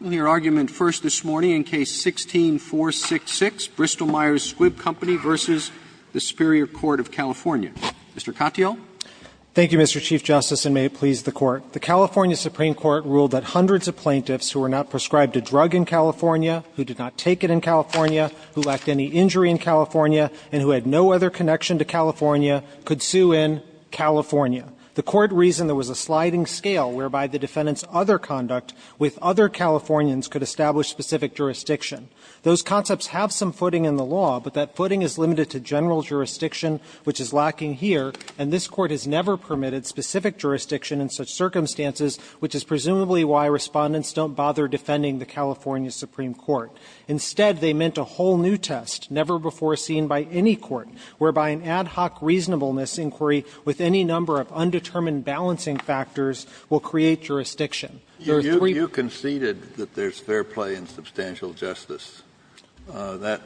Roberts. Roberts. Thank you, Mr. Chief Justice, and may it please the Court, the California Supreme Court ruled that hundreds of plaintiffs who were not prescribed a drug in California, who did not take it in California, who lacked any injury in California, and who had no other connection to California, could sue in California. The Court reasoned there was a sliding scale whereby the defendant's other conduct with other Californians could establish specific jurisdiction. Those concepts have some footing in the law, but that footing is limited to general jurisdiction, which is lacking here, and this Court has never permitted specific jurisdiction in such circumstances, which is presumably why Respondents don't bother defending the California Supreme Court. Instead, they meant a whole new test, never before seen by any court, whereby an ad hoc reasonableness inquiry with any number of undetermined balancing factors will create jurisdiction. Kennedy. You conceded that there's fair play in substantial justice. That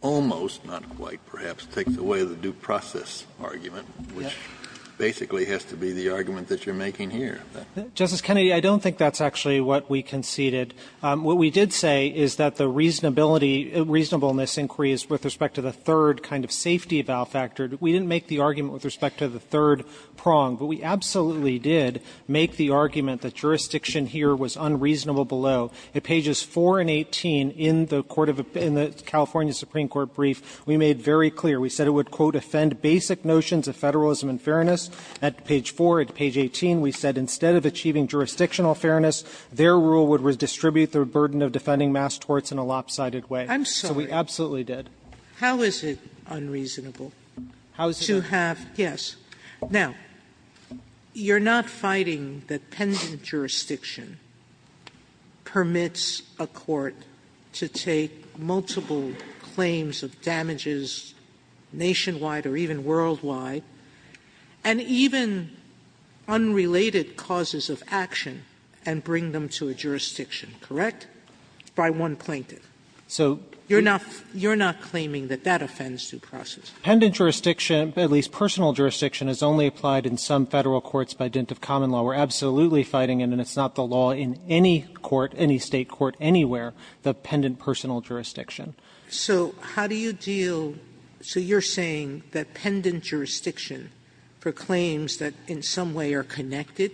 almost, not quite, perhaps, takes away the due process argument, which basically has to be the argument that you're making here. Justice Kennedy, I don't think that's actually what we conceded. What we did say is that the reasonability, reasonableness inquiry is with respect to the third kind of safety valve factor. We didn't make the argument with respect to the third prong, but we absolutely did make the argument that jurisdiction here was unreasonable below. At pages 4 and 18, in the California Supreme Court brief, we made very clear. We said it would, quote, ''offend basic notions of federalism and fairness.'' At page 4, at page 18, we said, ''Instead of achieving jurisdictional fairness, their rule would redistribute the burden of defending mass torts in a lopsided way.'' Sotomayor. Sotomayor. How is it unreasonable to have ---- How is it unreasonable? Yes. Now, you're not fighting that pendant jurisdiction permits a court to take multiple claims of damages nationwide or even worldwide, and even unrelated causes of action and bring them to a jurisdiction, correct, by one plaintiff? You're not claiming that that offends due process? Pendant jurisdiction, at least personal jurisdiction, is only applied in some Federal courts by dint of common law. We're absolutely fighting it, and it's not the law in any court, any State court anywhere, the pendant personal jurisdiction. So how do you deal ---- so you're saying that pendant jurisdiction for claims that in some way are connected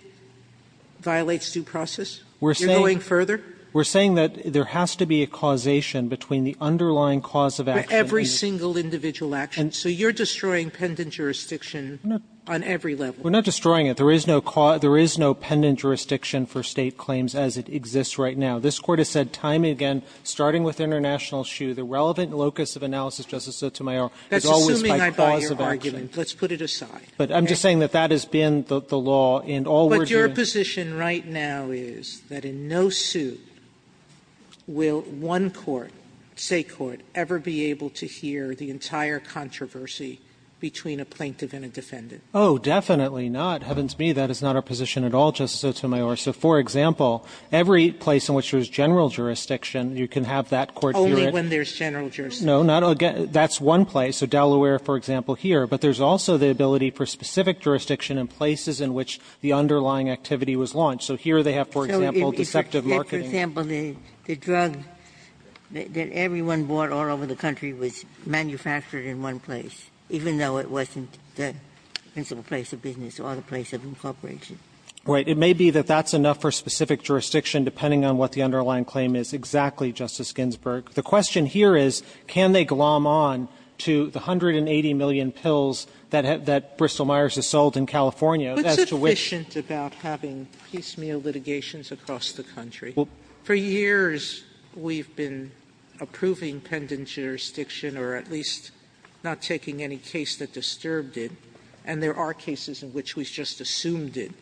violates due process? You're going further? We're saying that there has to be a causation between the underlying cause of action and every single individual action. So you're destroying pendant jurisdiction on every level? We're not destroying it. There is no pendant jurisdiction for State claims as it exists right now. This Court has said time and again, starting with International Shoe, the relevant locus of analysis, Justice Sotomayor, is always by cause of action. That's assuming I buy your argument. Let's put it aside. But I'm just saying that that has been the law in all we're doing. But your position right now is that in no suit will one court, say court, ever be able to hear the entire controversy between a plaintiff and a defendant? Oh, definitely not. Heavens me, that is not our position at all, Justice Sotomayor. So, for example, every place in which there is general jurisdiction, you can have that court hear it. Only when there's general jurisdiction. No, not ---- that's one place. So Delaware, for example, here. But there's also the ability for specific jurisdiction in places in which the underlying activity was launched. So here they have, for example, deceptive marketing. Yes, for example, the drug that everyone bought all over the country was manufactured in one place, even though it wasn't the principal place of business or the place of incorporation. Right. It may be that that's enough for specific jurisdiction, depending on what the underlying claim is exactly, Justice Ginsburg. The question here is, can they glom on to the 180 million pills that Bristol-Myers has sold in California as to which ---- Sotomayor, for years we've been approving pendant jurisdiction or at least not taking any case that disturbed it, and there are cases in which we've just assumed it.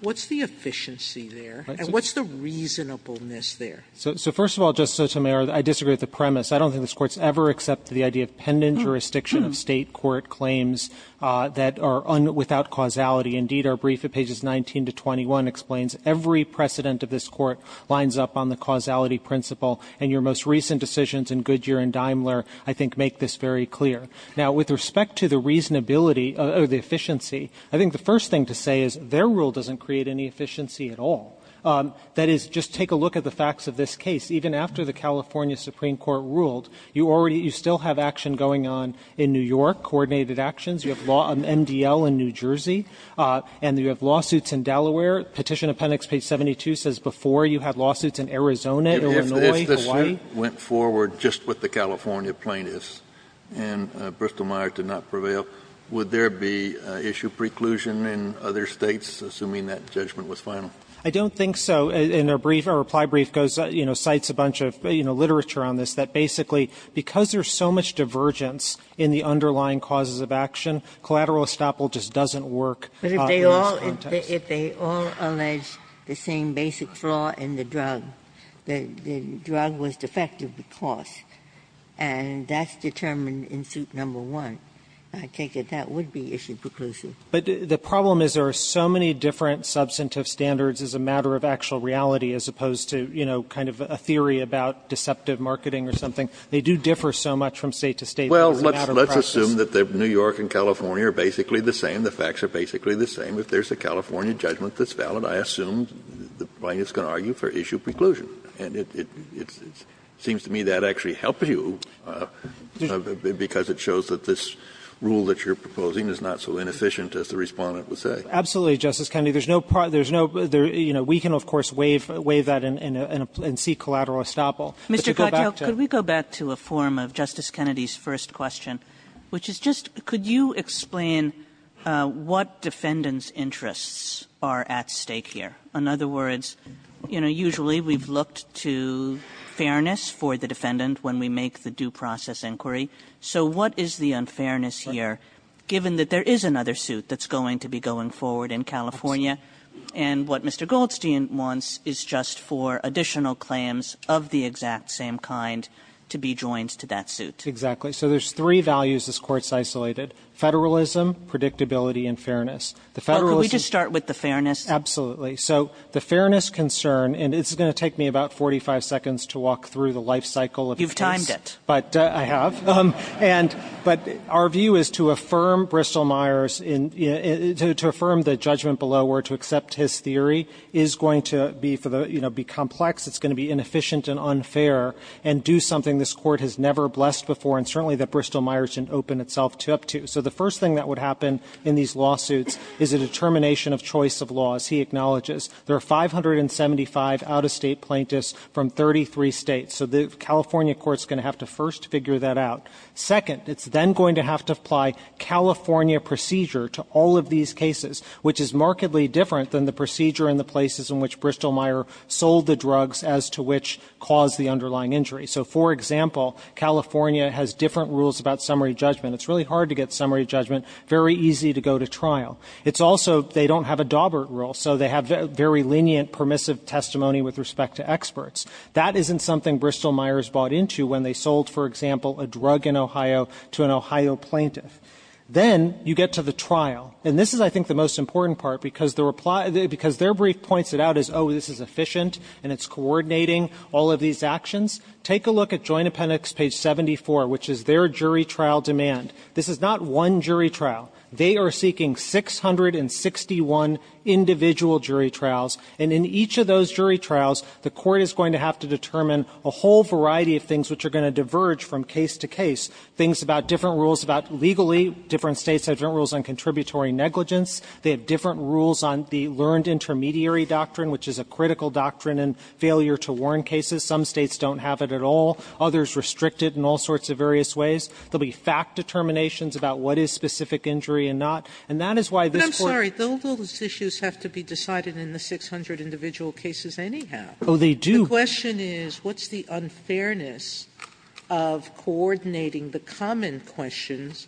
What's the efficiency there? And what's the reasonableness there? So first of all, Justice Sotomayor, I disagree with the premise. I don't think this Court's ever accepted the idea of pendant jurisdiction of State court claims that are without causality. Indeed, our brief at pages 19 to 21 explains every precedent of this Court lines up on the causality principle, and your most recent decisions in Goodyear and Daimler I think make this very clear. Now, with respect to the reasonability or the efficiency, I think the first thing to say is their rule doesn't create any efficiency at all. That is, just take a look at the facts of this case. Even after the California Supreme Court ruled, you already ---- you still have action going on in New York, coordinated actions. You have law on MDL in New Jersey, and you have lawsuits in Delaware. Petition appendix page 72 says before you had lawsuits in Arizona, Illinois, Hawaii. Kennedy, if this went forward just with the California plaintiffs and Bristol-Meyer did not prevail, would there be issue preclusion in other States, assuming that judgment was final? I don't think so. And our brief, our reply brief goes, you know, cites a bunch of, you know, literature on this, that basically because there's so much divergence in the underlying causes of action, collateral estoppel just doesn't work in this context. Ginsburg. But if they all allege the same basic flaw in the drug, the drug was defective because, and that's determined in suit number one, I think that that would be issue preclusion. But the problem is there are so many different substantive standards as a matter of actual reality, as opposed to, you know, kind of a theory about deceptive marketing or something. They do differ so much from State to State as a matter of practice. Well, let's assume that New York and California are basically the same. The facts are basically the same. If there's a California judgment that's valid, I assume the plaintiff's going to argue for issue preclusion. And it seems to me that actually helps you because it shows that this rule that you're proposing is not so inefficient as the Respondent would say. Absolutely, Justice Kennedy. There's no part, there's no, you know, we can, of course, waive that and see collateral estoppel. Mr. Katyal, could we go back to a form of Justice Kennedy's first question? Which is just, could you explain what defendant's interests are at stake here? In other words, you know, usually we've looked to fairness for the defendant when we make the due process inquiry. So what is the unfairness here, given that there is another suit that's going to be going forward in California, and what Mr. Goldstein wants is just for additional claims of the exact same kind to be joined to that suit? Exactly. So there's three values this Court's isolated. Federalism, predictability, and fairness. The federalism- Can we just start with the fairness? Absolutely. So the fairness concern, and it's going to take me about 45 seconds to walk through the life cycle of this- You've timed it. But I have. And, but our view is to affirm Bristol Myers in, to affirm the judgment below where to accept his theory is going to be for the, you know, be complex. It's going to be inefficient and unfair and do something this Court has never blessed before and certainly that Bristol Myers didn't open itself up to. So the first thing that would happen in these lawsuits is a determination of choice of laws. He acknowledges there are 575 out-of-state plaintiffs from 33 states. So the California court's going to have to first figure that out. Second, it's then going to have to apply California procedure to all of these cases, which is markedly different than the procedure in the places in which Bristol Myers sold the drugs as to which caused the underlying injury. So for example, California has different rules about summary judgment. It's really hard to get summary judgment, very easy to go to trial. It's also, they don't have a Daubert rule, so they have very lenient permissive testimony with respect to experts. That isn't something Bristol Myers bought into when they sold, for example, a drug in Ohio to an Ohio plaintiff. Then, you get to the trial. And this is, I think, the most important part, because their brief points it out as, oh, this is efficient and it's coordinating all of these actions. Take a look at Joint Appendix page 74, which is their jury trial demand. This is not one jury trial. They are seeking 661 individual jury trials. And in each of those jury trials, the court is going to have to determine a whole variety of things which are going to diverge from case to case. Things about different rules about legally, different states have different rules on contributory negligence. They have different rules on the learned intermediary doctrine, which is a critical doctrine in failure to warn cases. Some states don't have it at all. Others restrict it in all sorts of various ways. There'll be fact determinations about what is specific injury and not. And that is why this court- Sotomayor, but I'm sorry, those issues have to be decided in the 600 individual cases anyhow. The question is, what's the unfairness of coordinating the common questions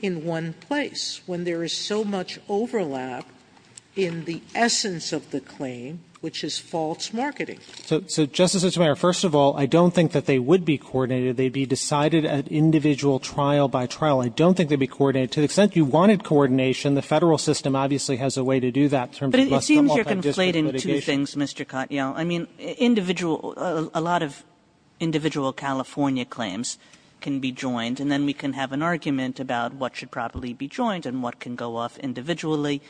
in one place? When there is so much overlap in the essence of the claim, which is false marketing. So, Justice Sotomayor, first of all, I don't think that they would be coordinated. They'd be decided at individual trial by trial. I don't think they'd be coordinated. To the extent you wanted coordination, the federal system obviously has a way to do that. But it seems you're conflating two things, Mr. Cottiel. I mean, individual, a lot of individual California claims can be joined. And then we can have an argument about what should probably be joined and what can go off individually.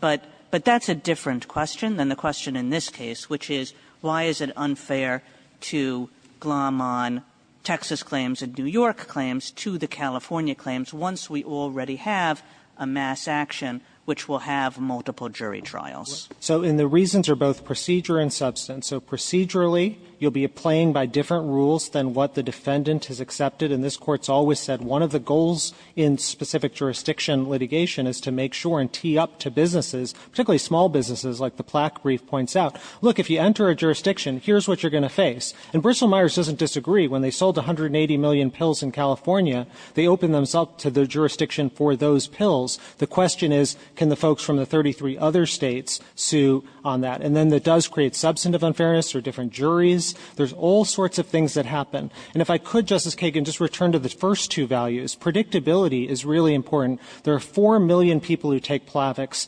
But that's a different question than the question in this case, which is, why is it unfair to glom on Texas claims and New York claims to the California claims once we already have a mass action which will have multiple jury trials? So, and the reasons are both procedure and substance. So procedurally, you'll be playing by different rules than what the defendant has accepted. And this court's always said one of the goals in specific jurisdiction litigation is to make sure and be up to businesses, particularly small businesses like the plaque brief points out. Look, if you enter a jurisdiction, here's what you're going to face. And Bristol Myers doesn't disagree. When they sold 180 million pills in California, they opened themselves up to the jurisdiction for those pills. The question is, can the folks from the 33 other states sue on that? And then that does create substantive unfairness or different juries. There's all sorts of things that happen. And if I could, Justice Kagan, just return to the first two values. Predictability is really important. There are 4 million people who take Plavix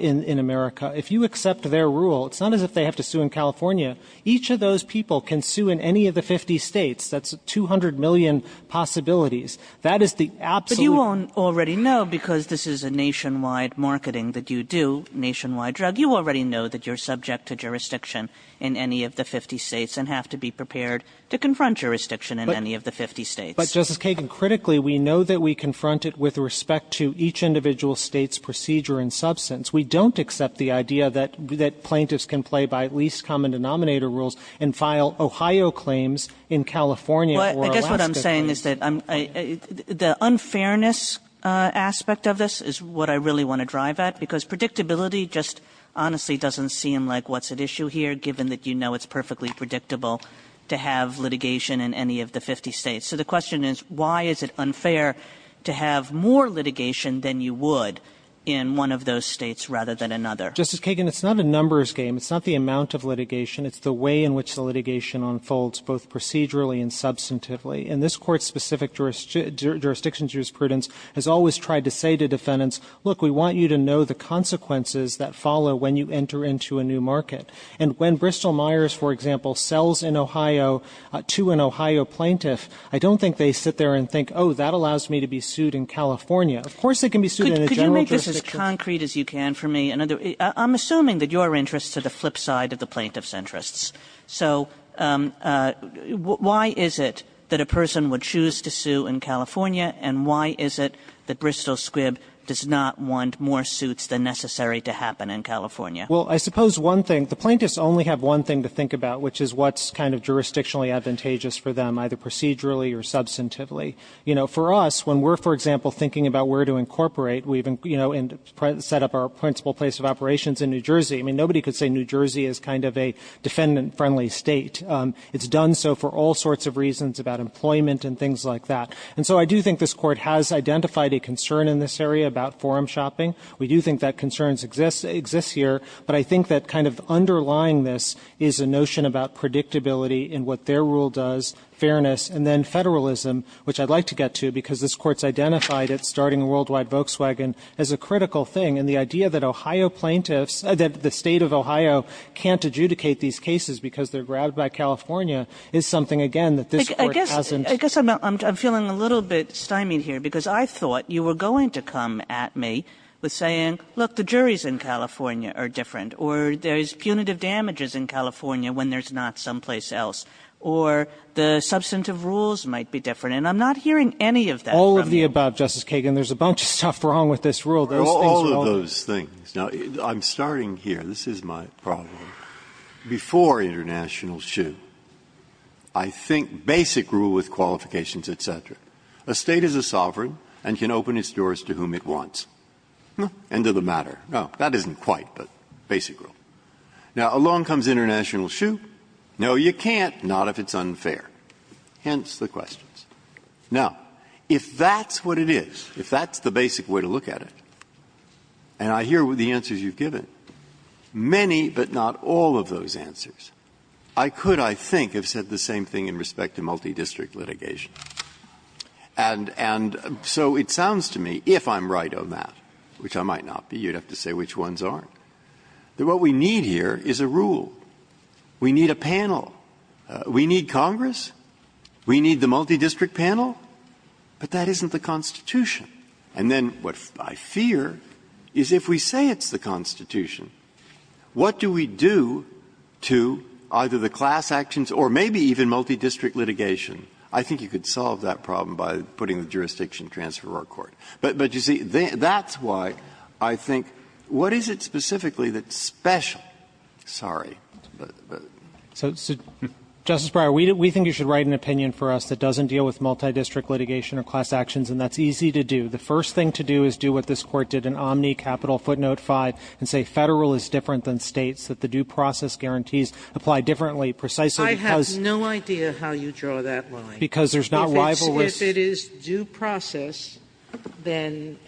in America. If you accept their rule, it's not as if they have to sue in California. Each of those people can sue in any of the 50 states. That's 200 million possibilities. That is the absolute- But you already know, because this is a nationwide marketing that you do, nationwide drug, you already know that you're subject to jurisdiction in any of the 50 states and have to be prepared to confront jurisdiction in any of the 50 states. But Justice Kagan, critically, we know that we confront it with respect to each individual state's procedure and substance. We don't accept the idea that plaintiffs can play by at least common denominator rules and file Ohio claims in California or Alaska. I guess what I'm saying is that the unfairness aspect of this is what I really want to drive at. Because predictability just honestly doesn't seem like what's at issue here, given that you know it's perfectly predictable to have litigation in any of the 50 states. So the question is, why is it unfair to have more litigation than you would in one of those states rather than another? Justice Kagan, it's not a numbers game. It's not the amount of litigation. It's the way in which the litigation unfolds, both procedurally and substantively. And this court's specific jurisdiction jurisprudence has always tried to say to defendants, look, we want you to know the consequences that follow when you enter into a new market. And when Bristol-Myers, for example, sells to an Ohio plaintiff, I don't think they sit there and think, oh, that allows me to be sued in California. Of course it can be sued in a general jurisdiction. Could you make this as concrete as you can for me? I'm assuming that your interests are the flip side of the plaintiff's interests. So why is it that a person would choose to sue in California? And why is it that Bristol-Squibb does not want more suits than necessary to happen in California? Well, I suppose one thing, the plaintiffs only have one thing to think about, which is what's kind of jurisdictionally advantageous for them, either procedurally or substantively. For us, when we're, for example, thinking about where to incorporate, we've set up our principal place of operations in New Jersey. I mean, nobody could say New Jersey is kind of a defendant-friendly state. It's done so for all sorts of reasons about employment and things like that. And so I do think this court has identified a concern in this area about forum shopping. We do think that concern exists here. But I think that kind of underlying this is a notion about predictability in what their rule does, fairness. And then federalism, which I'd like to get to, because this court's identified it, starting Worldwide Volkswagen, as a critical thing. And the idea that Ohio plaintiffs, that the state of Ohio can't adjudicate these cases because they're grabbed by California, is something, again, that this court hasn't- Kagan, I'm getting a little bit stymied here, because I thought you were going to come at me with saying, look, the juries in California are different, or there's punitive damages in California when there's not someplace else, or the substantive rules might be different. And I'm not hearing any of that from you. All of the above, Justice Kagan. There's a bunch of stuff wrong with this rule. All of those things. Now, I'm starting here. This is my problem. Before international shoe, I think basic rule with qualifications, et cetera. A State is a sovereign and can open its doors to whom it wants. End of the matter. No, that isn't quite, but basic rule. Now, along comes international shoe. No, you can't, not if it's unfair. Hence the questions. Now, if that's what it is, if that's the basic way to look at it, and I hear the answers you've given, many but not all of those answers, I could, I think, have said the same thing in respect to multidistrict litigation. And so it sounds to me, if I'm right on that, which I might not be, you'd have to say which ones aren't, that what we need here is a rule. We need a panel. We need Congress. We need the multidistrict panel. But that isn't the Constitution. And then what I fear is if we say it's the Constitution, what do we do to either the class actions or maybe even multidistrict litigation? I think you could solve that problem by putting the jurisdiction transfer to our court. But, you see, that's why I think what is it specifically that's special? Sorry. So, Justice Breyer, we think you should write an opinion for us that doesn't deal with multidistrict litigation or class actions, and that's easy to do. The first thing to do is do what this Court did in Omni, capital footnote 5, and say Federal is different than States, that the due process guarantees apply differently precisely because of the law. Sotomayor, I have no idea how you draw that line. Because there's not rival risk. If it is due process, then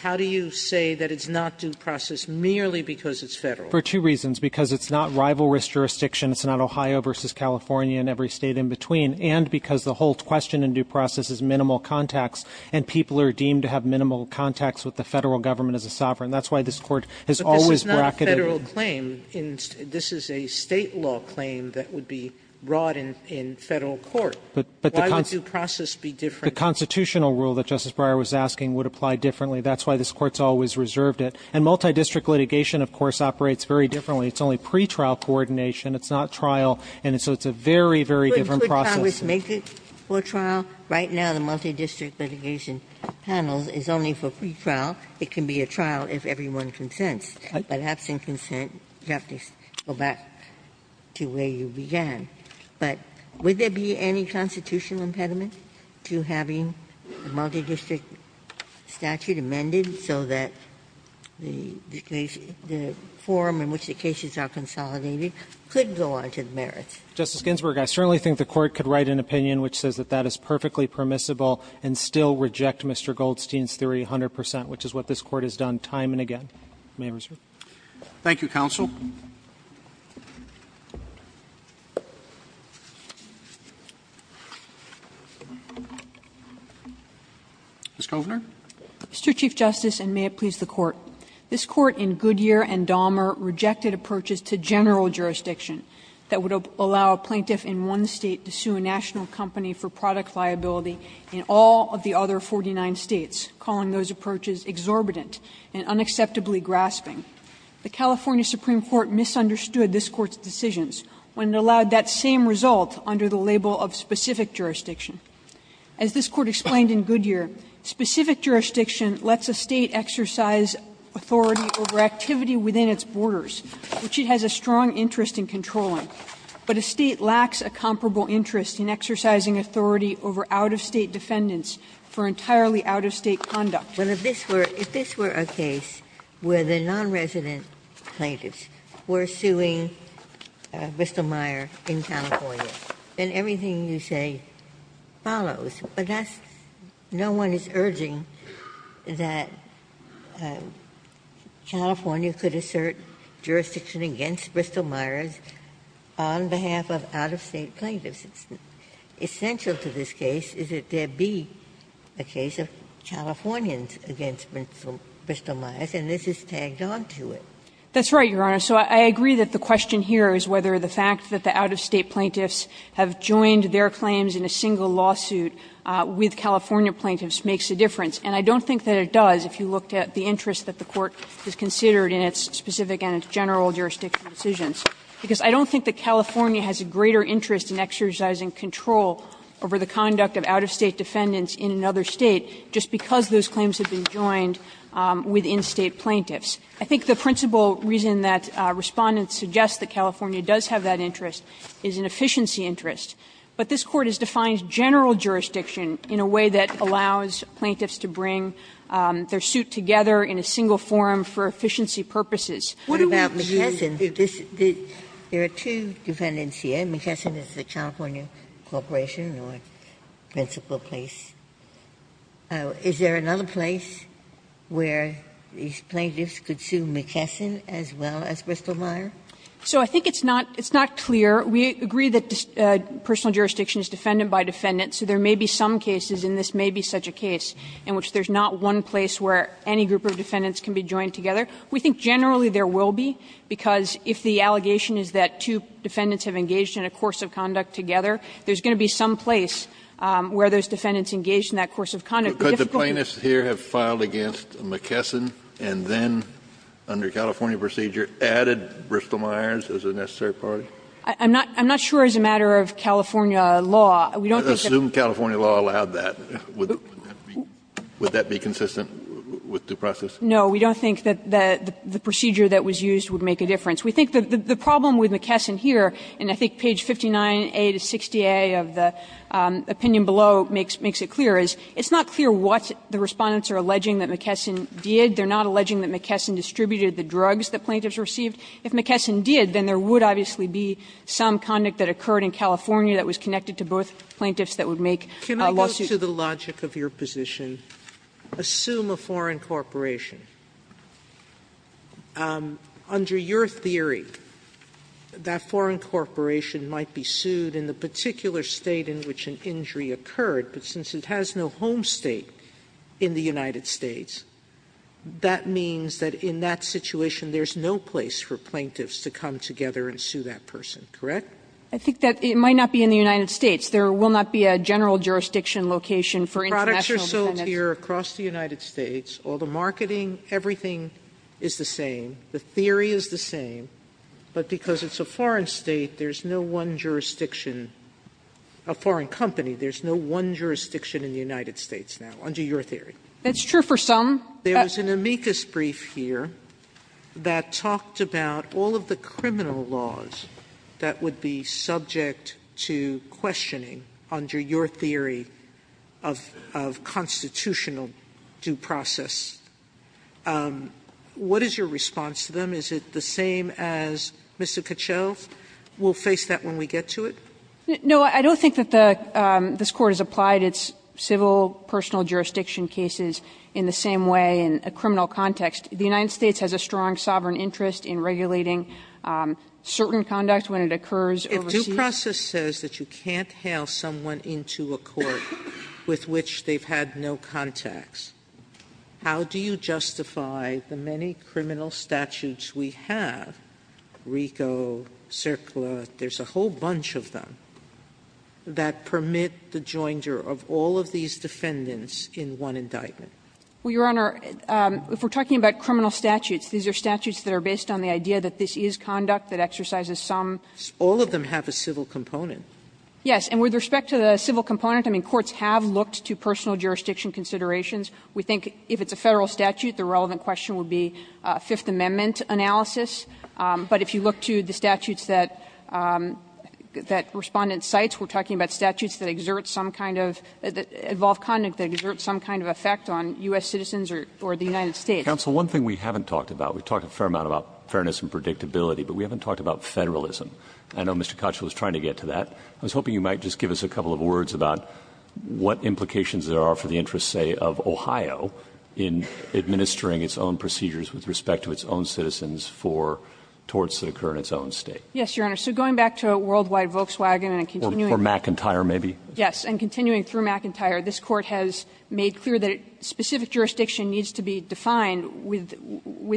how do you say that it's not due process merely because it's Federal? For two reasons, because it's not rival risk jurisdiction, it's not Ohio v. California and every State in between, and because the whole question in due process is minimal contacts, and people are deemed to have minimal contacts with the Federal government as a sovereign. That's why this Court has always bracketed. Sotomayor, but this is not a Federal claim. This is a State law claim that would be brought in Federal court. Why would due process be different? The constitutional rule that Justice Breyer was asking would apply differently. That's why this Court has always reserved it. And multidistrict litigation, of course, operates very differently. It's only pretrial coordination. It's not trial. And so it's a very, very different process. Ginsburg. Could Congress make it for trial? Right now the multidistrict litigation panel is only for pretrial. It can be a trial if everyone consents. But absent consent, you have to go back to where you began. But would there be any constitutional impediment to having a multidistrict statute amended so that the form in which the cases are consolidated could go on to the court of merit? Justice Ginsburg, I certainly think the Court could write an opinion which says that that is perfectly permissible and still reject Mr. Goldstein's theory 100 percent, which is what this Court has done time and again. May I reserve? Thank you, counsel. Ms. Kovner. Mr. Chief Justice, and may it please the Court. This Court in Goodyear and Dahmer rejected approaches to general jurisdiction that would allow a plaintiff in one State to sue a national company for product liability in all of the other 49 States, calling those approaches exorbitant and unacceptably grasping. The California Supreme Court misunderstood this Court's decisions when it allowed that same result under the label of specific jurisdiction. As this Court explained in Goodyear, specific jurisdiction lets a State exercise authority over activity within its borders, which it has a strong interest in controlling but a State lacks a comparable interest in exercising authority over out-of-State defendants for entirely out-of-State conduct. Ginsburg, if this were a case where the nonresident plaintiffs were suing Bristol-Meyer in California, then everything you say follows, but that's no one is urging that on behalf of out-of-State plaintiffs. It's essential to this case is that there be a case of Californians against Bristol-Meyer's, and this is tagged on to it. That's right, Your Honor. So I agree that the question here is whether the fact that the out-of-State plaintiffs have joined their claims in a single lawsuit with California plaintiffs makes a difference, and I don't think that it does if you looked at the interest that the Court has considered in its specific and general jurisdiction decisions. Because I don't think that California has a greater interest in exercising control over the conduct of out-of-State defendants in another State just because those claims have been joined within State plaintiffs. I think the principal reason that Respondent suggests that California does have that interest is an efficiency interest, but this Court has defined general jurisdiction in a way that allows plaintiffs to bring their suit together in a single forum for efficiency purposes. Ginsburg-McKesson, there are two defendants here. McKesson is the California corporation or principal place. Is there another place where these plaintiffs could sue McKesson as well as Bristol-Meyer? So I think it's not clear. We agree that personal jurisdiction is defendant by defendant, so there may be some cases, and this may be such a case, in which there's not one place where any group of defendants can be joined together. We think generally there will be, because if the allegation is that two defendants have engaged in a course of conduct together, there's going to be some place where those defendants engaged in that course of conduct. Kennedy, but could the plaintiffs here have filed against McKesson and then, under California procedure, added Bristol-Meyers as a necessary party? I'm not sure as a matter of California law. We don't think that's a matter of California law. Assume California law allowed that. Would that be consistent with due process? No, we don't think that the procedure that was used would make a difference. We think the problem with McKesson here, and I think page 59A to 60A of the opinion below makes it clear, is it's not clear what the Respondents are alleging that McKesson did. They're not alleging that McKesson distributed the drugs that plaintiffs received. If McKesson did, then there would obviously be some conduct that occurred in California that was connected to both plaintiffs that would make a lawsuit. Sotomayor, according to the logic of your position, assume a foreign corporation. Under your theory, that foreign corporation might be sued in the particular State in which an injury occurred, but since it has no home State in the United States, that means that in that situation there's no place for plaintiffs to come together and sue that person, correct? I think that it might not be in the United States. There will not be a general jurisdiction location for international plaintiffs. Sotomayor, products are sold here across the United States. All the marketing, everything is the same. The theory is the same. But because it's a foreign State, there's no one jurisdiction, a foreign company, there's no one jurisdiction in the United States now, under your theory. That's true for some. There's an amicus brief here that talked about all of the criminal laws that would be subject to questioning under your theory of constitutional due process. What is your response to them? Is it the same as Mr. Cachelle's? We'll face that when we get to it? No, I don't think that the Court has applied its civil personal jurisdiction cases in the same way in a criminal context. The United States has a strong sovereign interest in regulating certain conduct when it occurs overseas. Sotomayor, if due process says that you can't hail someone into a court with which they've had no contacts, how do you justify the many criminal statutes we have, RICO, CERCLA, there's a whole bunch of them, that permit the joinder of all of these defendants in one indictment? Well, Your Honor, if we're talking about criminal statutes, these are statutes that are based on the idea that this is conduct that exercises some. All of them have a civil component. Yes. And with respect to the civil component, I mean, courts have looked to personal jurisdiction considerations. We think if it's a Federal statute, the relevant question would be Fifth Amendment analysis. But if you look to the statutes that Respondent cites, we're talking about statutes that exert some kind of – that involve conduct that exert some kind of effect on U.S. citizens or the United States. Counsel, one thing we haven't talked about, we've talked a fair amount about fairness and predictability, but we haven't talked about Federalism. I know Mr. Kochel was trying to get to that. I was hoping you might just give us a couple of words about what implications there are for the interests, say, of Ohio in administering its own procedures with respect to its own citizens for torts that occur in its own State. Yes, Your Honor. So going back to Worldwide Volkswagen and continuing to do that. Or McIntyre, maybe. Yes. And continuing through McIntyre, this Court has made clear that a specific jurisdiction needs to be defined with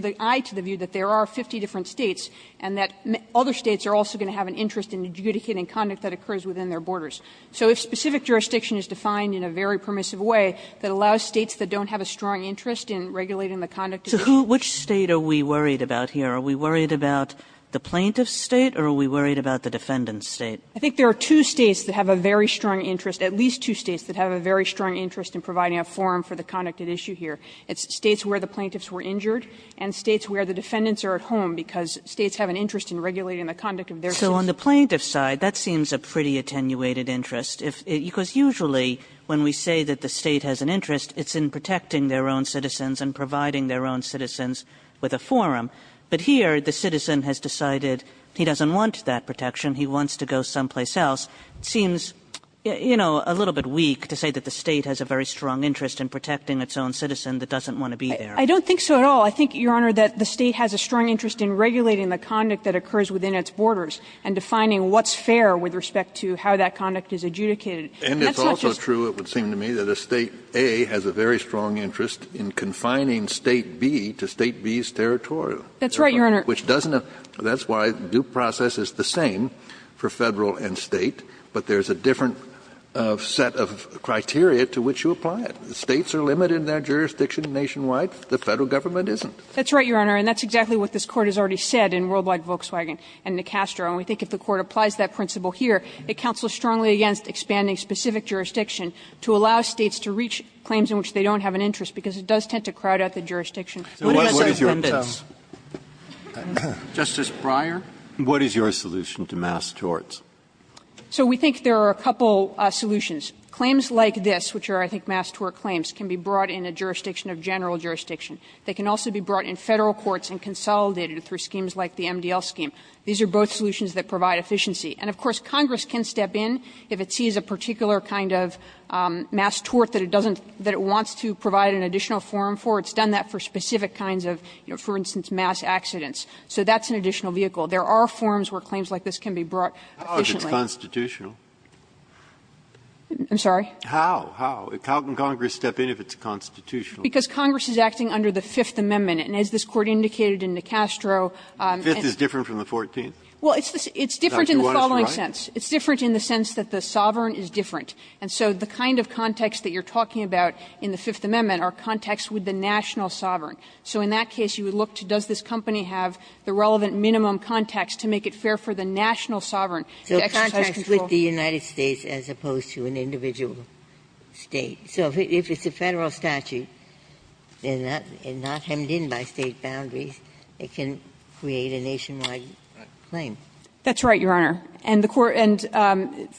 an eye to the view that there are 50 different States and that other States are also going to have an interest in adjudicating conduct that occurs within their borders. So if specific jurisdiction is defined in a very permissive way that allows States that don't have a strong interest in regulating the conduct of the State. So who – which State are we worried about here? Are we worried about the plaintiff's State or are we worried about the defendant's State? I think there are two States that have a very strong interest, at least two States that have a very strong interest in providing a forum for the conduct at issue here. It's States where the plaintiffs were injured and States where the defendants are at home, because States have an interest in regulating the conduct of their citizens. Kagan. So on the plaintiff's side, that seems a pretty attenuated interest, if – because usually when we say that the State has an interest, it's in protecting their own citizens and providing their own citizens with a forum. But here, the citizen has decided he doesn't want that protection, he wants to go someplace else. It seems, you know, a little bit weak to say that the State has a very strong interest in protecting its own citizen that doesn't want to be there. I don't think so at all. I think, Your Honor, that the State has a strong interest in regulating the conduct that occurs within its borders and defining what's fair with respect to how that conduct is adjudicated. And that's not just the State. And it's also true, it would seem to me, that a State, A, has a very strong interest in confining State, B, to State, B's territorial. That's right, Your Honor. Which doesn't have – that's why due process is the same for Federal and State, but there's a different set of criteria to which you apply it. If the States are limited in their jurisdiction nationwide, the Federal government isn't. That's right, Your Honor, and that's exactly what this Court has already said in Worldwide Volkswagen and Necastro. And we think if the Court applies that principle here, it counsels strongly against expanding specific jurisdiction to allow States to reach claims in which they don't have an interest, because it does tend to crowd out the jurisdiction. Kennedy, Justice Breyer. What is your solution to mass torts? So we think there are a couple solutions. Claims like this, which are, I think, mass tort claims, can be brought in a jurisdiction of general jurisdiction. They can also be brought in Federal courts and consolidated through schemes like the MDL scheme. These are both solutions that provide efficiency. And, of course, Congress can step in if it sees a particular kind of mass tort that it doesn't – that it wants to provide an additional forum for. It's done that for specific kinds of, you know, for instance, mass accidents. So that's an additional vehicle. There are forums where claims like this can be brought efficiently. Kennedy, Justice Breyer. I'm sorry? How? How? How can Congress step in if it's constitutional? Because Congress is acting under the Fifth Amendment. And as this Court indicated in DeCastro, and the Fifth Amendment is different from the Fourteenth? Well, it's different in the following sense. It's different in the sense that the sovereign is different. And so the kind of context that you're talking about in the Fifth Amendment are contexts with the national sovereign. So in that case, you would look to does this company have the relevant minimum context to make it fair for the national sovereign to exercise control? And that would be the United States as opposed to an individual State. So if it's a Federal statute, and not hemmed in by State boundaries, it can create a nationwide claim. That's right, Your Honor. And the Court – and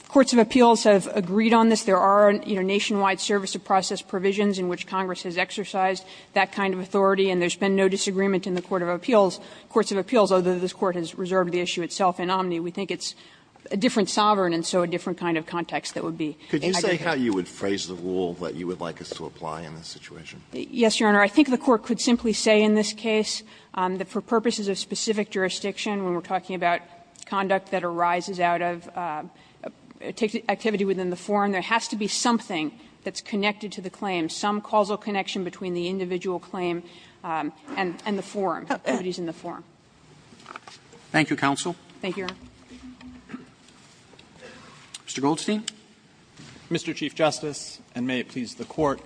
courts of appeals have agreed on this. There are, you know, nationwide service of process provisions in which Congress has exercised that kind of authority. And there's been no disagreement in the court of appeals. Courts of appeals, although this Court has reserved the issue itself in omni, we think it's a different sovereign, and so a different kind of context that would be. Could you say how you would phrase the rule that you would like us to apply in this situation? Yes, Your Honor. I think the Court could simply say in this case that for purposes of specific jurisdiction, when we're talking about conduct that arises out of activity within the forum, there has to be something that's connected to the claim, some causal connection between the individual claim and the forum, activities in the forum. Thank you, counsel. Thank you, Your Honor. Mr. Goldstein. Mr. Chief Justice, and may it please the Court,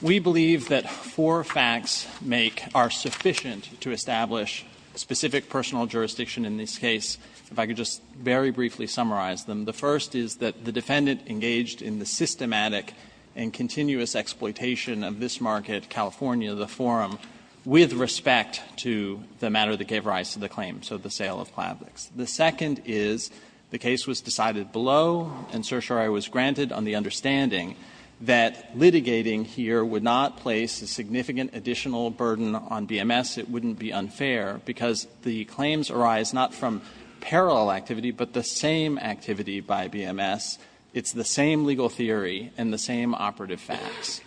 we believe that four facts make – are sufficient to establish specific personal jurisdiction in this case, if I could just very briefly summarize them. The first is that the defendant engaged in the systematic and continuous exploitation of this market, California, the forum, with respect to the matter that gave rise to the claim, so the sale of Plavix. The second is the case was decided below, and certiorari was granted on the understanding that litigating here would not place a significant additional burden on BMS, it wouldn't be unfair, because the claims arise not from parallel activity, but the same activity by BMS. It's the same legal theory and the same operative facts.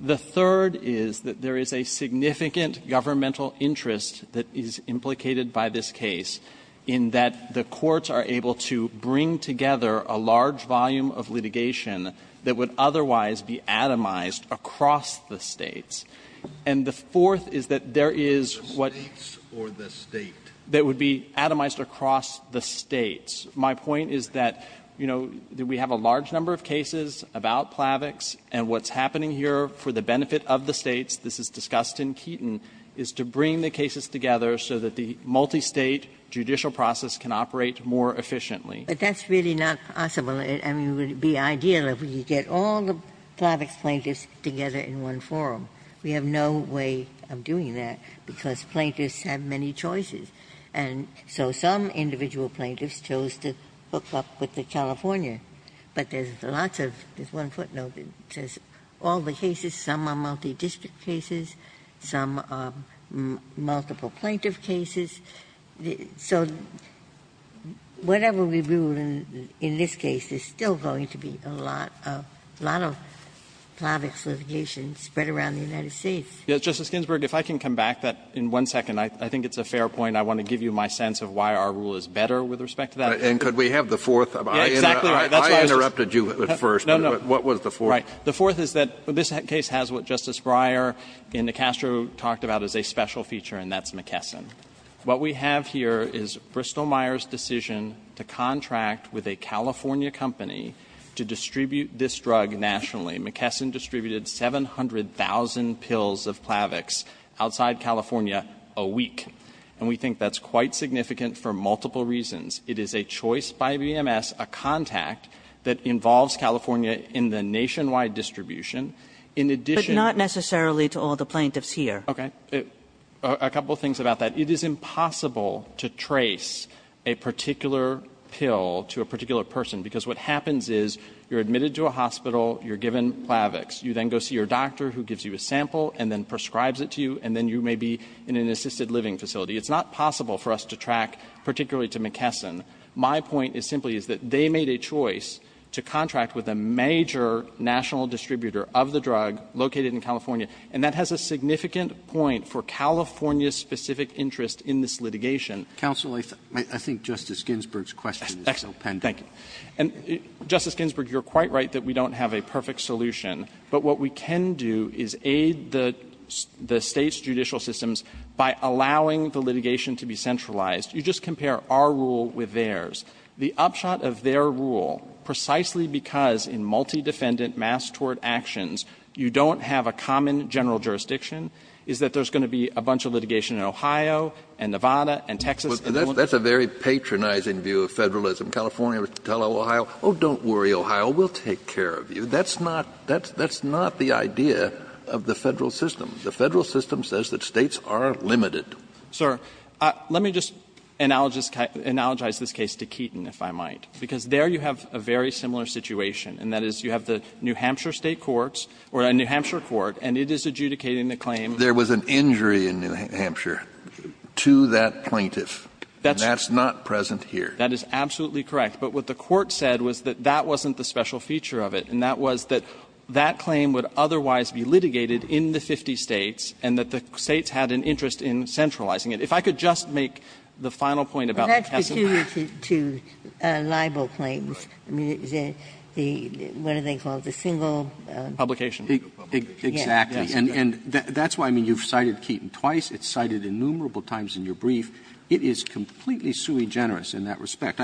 The third is that there is a significant governmental interest that is implicated by this case in that the courts are able to bring together a large volume of litigation that would otherwise be atomized across the States. And the fourth is that there is what – The States or the State? That would be atomized across the States. My point is that, you know, we have a large number of cases about Plavix, and what's happening here for the benefit of the States, this is discussed in Keaton, is to bring the cases together so that the multistate judicial process can operate more efficiently. But that's really not possible. I mean, it would be ideal if we could get all the Plavix plaintiffs together in one forum. We have no way of doing that, because plaintiffs have many choices. And so some individual plaintiffs chose to hook up with the California. But there's lots of – there's one footnote that says all the cases, some are multidistrict cases, some are multiple plaintiff cases. So whatever we do in this case, there's still going to be a lot of Plavix litigation spread around the United States. Yes, Justice Ginsburg, if I can come back in one second. I think it's a fair point. I want to give you my sense of why our rule is better with respect to that. And could we have the fourth? I interrupted you at first, but what was the fourth? Right. The fourth is that this case has what Justice Breyer in the Castro talked about as a special feature, and that's McKesson. What we have here is Bristol-Meyers' decision to contract with a California company to distribute this drug nationally. McKesson distributed 700,000 pills of Plavix outside California a week. And we think that's quite significant for multiple reasons. It is a choice by BMS, a contact that involves California in the nationwide distribution. In addition to the plaintiffs here. Okay. A couple of things about that. It is impossible to trace a particular pill to a particular person, because what happens is you're admitted to a hospital, you're given Plavix. You then go see your doctor, who gives you a sample, and then prescribes it to you, and then you may be in an assisted living facility. It's not possible for us to track particularly to McKesson. My point is simply is that they made a choice to contract with a major national distributor of the drug located in California, and that has a significant point for California's specific interest in this litigation. Counsel, I think Justice Ginsburg's question is still pending. Thank you. And, Justice Ginsburg, you're quite right that we don't have a perfect solution. But what we can do is aid the State's judicial systems by allowing the litigation to be centralized. You just compare our rule with theirs. The upshot of their rule, precisely because in multi-defendant mass tort actions you don't have a common general jurisdiction, is that there's going to be a bunch of litigation in Ohio and Nevada and Texas and the like. But that's a very patronizing view of Federalism. California would tell Ohio, oh, don't worry, Ohio, we'll take care of you. That's not the idea of the Federal system. The Federal system says that States are limited. Sir, let me just analogize this case to Keaton, if I might, because there you have a very similar situation, and that is you have the New Hampshire State courts, or a New Hampshire court, and it is adjudicating the claim. There was an injury in New Hampshire to that plaintiff. That's not present here. That is absolutely correct. But what the court said was that that wasn't the special feature of it, and that was that that claim would otherwise be litigated in the 50 States and that the States had an interest in centralizing it. If I could just make the final point about the testimony. Ginsburg. Well, that's peculiar to libel claims. I mean, what do they call it, the single? Publication. Exactly. And that's why, I mean, you've cited Keaton twice. It's cited innumerable times in your brief. It is completely sui generis in that respect.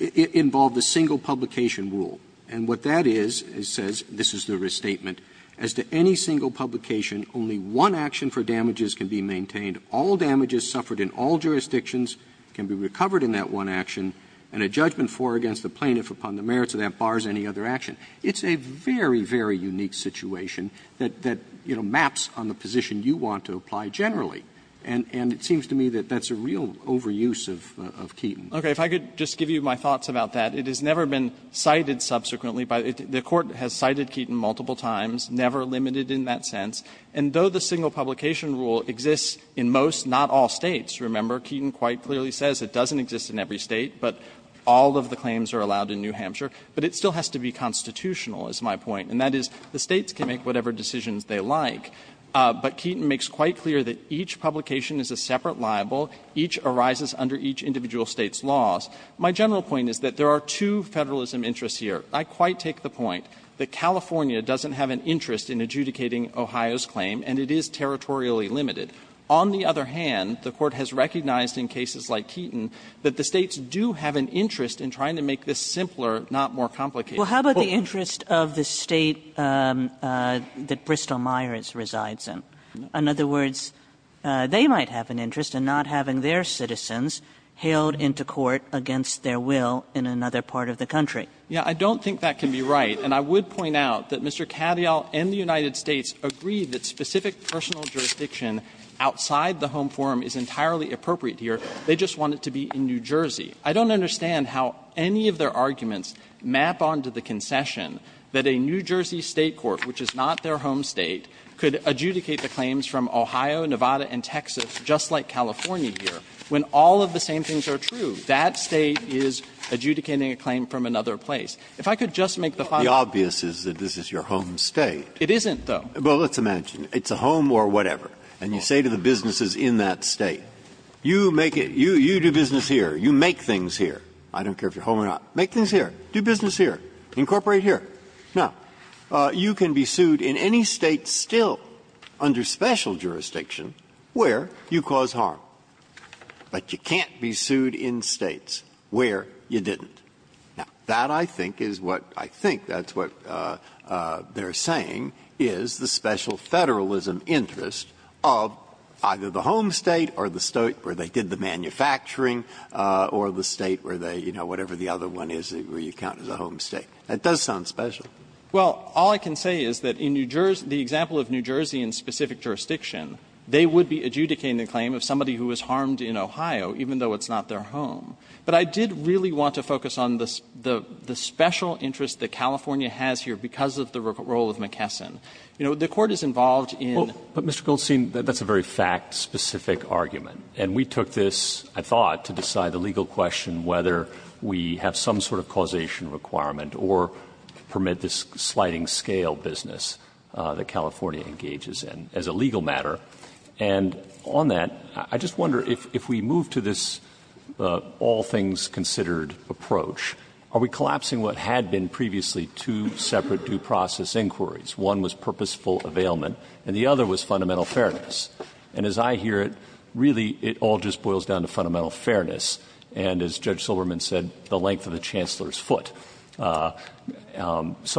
It involved a single publication rule. And what that is, it says, this is the restatement, as to any single publication, only one action for damages can be maintained. All damages suffered in all jurisdictions can be recovered in that one action, and a judgment for or against the plaintiff upon the merits of that bars any other action. It's a very, very unique situation that, you know, maps on the position you want to apply generally. And it seems to me that that's a real overuse of Keaton. Okay. If I could just give you my thoughts about that. It has never been cited subsequently by the court. It has cited Keaton multiple times, never limited in that sense. And though the single publication rule exists in most, not all States, remember, Keaton quite clearly says it doesn't exist in every State, but all of the claims are allowed in New Hampshire, but it still has to be constitutional, is my point. And that is, the States can make whatever decisions they like, but Keaton makes quite clear that each publication is a separate libel, each arises under each individual State's laws. My general point is that there are two Federalism interests here. I quite take the point that California doesn't have an interest in adjudicating Ohio's claim, and it is territorially limited. On the other hand, the Court has recognized in cases like Keaton that the States do have an interest in trying to make this simpler, not more complicated. Well, how about the interest of the State that Bristol-Myers resides in? In other words, they might have an interest in not having their citizens hailed into court against their will in another part of the country. Yeah, I don't think that can be right. And I would point out that Mr. Katyal and the United States agree that specific personal jurisdiction outside the Home Forum is entirely appropriate here. They just want it to be in New Jersey. I don't understand how any of their arguments map on to the concession that a New Jersey State court, which is not their home State, could adjudicate the claims from Ohio, Nevada, and Texas, just like California here, when all of the same things are true. That State is adjudicating a claim from another place. If I could just make the final point. Breyer. The obvious is that this is your home State. It isn't, though. Well, let's imagine. It's a home or whatever, and you say to the businesses in that State, you make it you, you do business here, you make things here. I don't care if you're home or not. Make things here. Do business here. Incorporate here. Now, you can be sued in any State still under special jurisdiction where you cause harm, but you can't be sued in States where you didn't. Now, that I think is what they're saying is the special Federalism interest of either the home State or the State where they did the manufacturing or the State where they, you know, whatever the other one is where you count as a home State. That does sound special. Well, all I can say is that in New Jersey, the example of New Jersey in specific jurisdiction, they would be adjudicating the claim of somebody who was harmed in Ohio, even though it's not their home. But I did really want to focus on the special interest that California has here because of the role of McKesson. You know, the Court is involved in the fact that the State is a home State. Roberts, but Mr. Goldstein, that's a very fact-specific argument. And we took this, I thought, to decide the legal question whether we have some sort of causation requirement or permit this sliding scale business that California engages in as a legal matter. And on that, I just wonder if we move to this all-things-considered approach, are we collapsing what had been previously two separate due process inquiries? One was purposeful availment, and the other was fundamental fairness. And as I hear it, really it all just boils down to fundamental fairness. And as Judge Silverman said, the length of the Chancellor's foot. So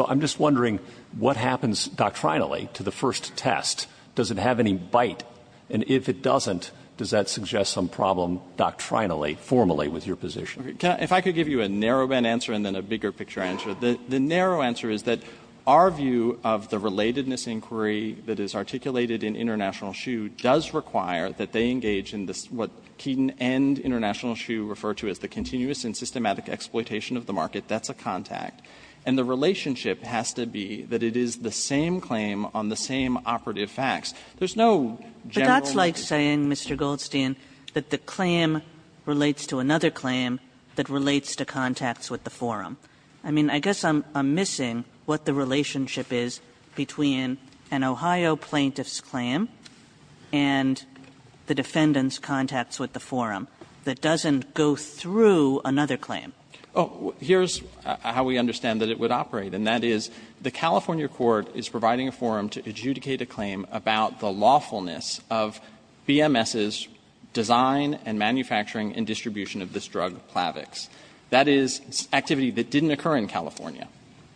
I'm just wondering what happens doctrinally to the first test. Does it have any bite? And if it doesn't, does that suggest some problem doctrinally, formally with your position? Goldstein, if I could give you a narrow-end answer and then a bigger-picture answer. The narrow answer is that our view of the relatedness inquiry that is articulated in International SHU does require that they engage in what Keeton and International SHU refer to as the continuous and systematic exploitation of the market. That's a contact. And the relationship has to be that it is the same claim on the same operative facts. There's no general way to do it. Kagan. Kagan. Kagan. But that's like saying, Mr. Goldstein, that the claim relates to another claim that relates to contacts with the forum. I mean, I guess I'm missing what the relationship is between an Ohio plaintiff's claim and the defendant's contacts with the forum that doesn't go through another claim. Goldstein. Oh, here's how we understand that it would operate, and that is the California court is providing a forum to adjudicate a claim about the lawfulness of BMS's design and manufacturing and distribution of this drug, Plavix. That is activity that didn't occur in California.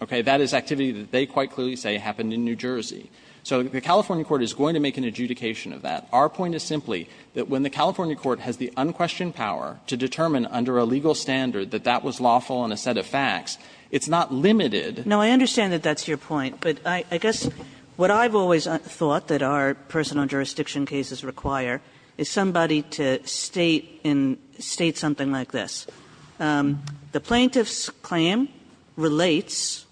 Okay? That is activity that they quite clearly say happened in New Jersey. So the California court is going to make an adjudication of that. Our point is simply that when the California court has the unquestioned power to determine under a legal standard that that was lawful on a set of facts, it's not limited to that. No, I understand that that's your point, but I guess what I've always thought that our personal jurisdiction cases require is somebody to state in state something like this. The plaintiff's claim relates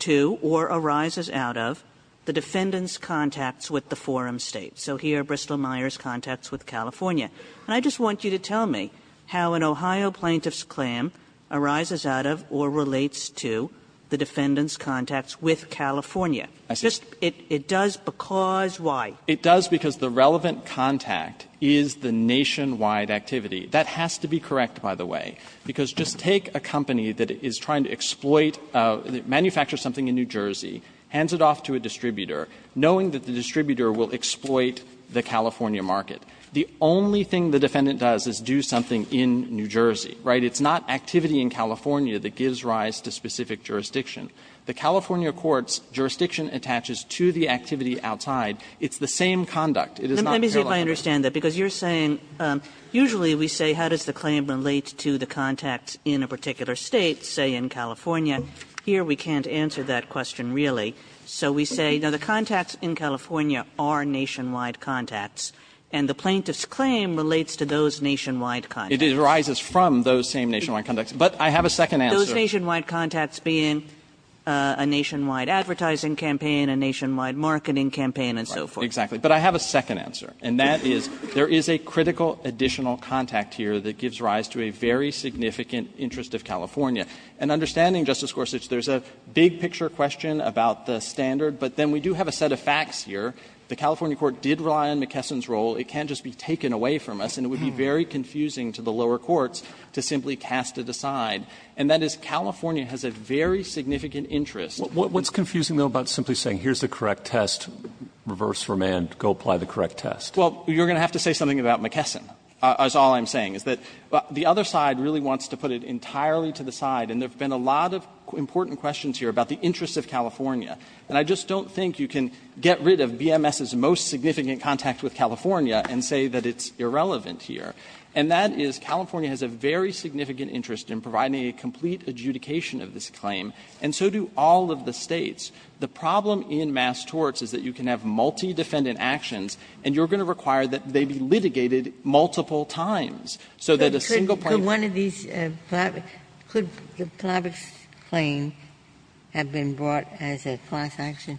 to or arises out of the defendant's contacts with the forum state. So here, Bristol-Myers contacts with California. And I just want you to tell me how an Ohio plaintiff's claim arises out of or relates to the defendant's contacts with California. It does because why? It does because the relevant contact is the nationwide activity. That has to be correct, by the way, because just take a company that is trying to exploit, manufacture something in New Jersey, hands it off to a distributor, knowing that the distributor will exploit the California market. The only thing the defendant does is do something in New Jersey, right? It's not activity in California that gives rise to specific jurisdiction. The California court's jurisdiction attaches to the activity outside. It's the same conduct. It is not parallel. Kagan. Kagan. Let me see if I understand that, because you're saying usually we say, how does the claim relate to the contacts in a particular state, say, in California? Here, we can't answer that question really, so we say, no, the contacts in California are nationwide contacts. And the plaintiff's claim relates to those nationwide contacts. It arises from those same nationwide contacts. But I have a second answer. Those nationwide contacts being a nationwide advertising campaign, a nationwide marketing campaign, and so forth. Exactly. But I have a second answer, and that is there is a critical additional contact here that gives rise to a very significant interest of California. And understanding, Justice Gorsuch, there's a big-picture question about the standard, but then we do have a set of facts here. The California court did rely on McKesson's role. It can't just be taken away from us, and it would be very confusing to the lower courts to simply cast it aside. And that is California has a very significant interest. What's confusing, though, about simply saying here's the correct test, reverse remand, go apply the correct test? Well, you're going to have to say something about McKesson, is all I'm saying, is that the other side really wants to put it entirely to the side. And there have been a lot of important questions here about the interests of California. And I just don't think you can get rid of BMS's most significant contact with California and say that it's irrelevant here. And that is California has a very significant interest in providing a complete adjudication of this claim, and so do all of the States. The problem in mass torts is that you can have multi-defendant actions, and you're going to require that they be litigated multiple times, so that a single plaintiff can't do that. Ginsburg-McKesson Could the Plavix claim have been brought as a class action?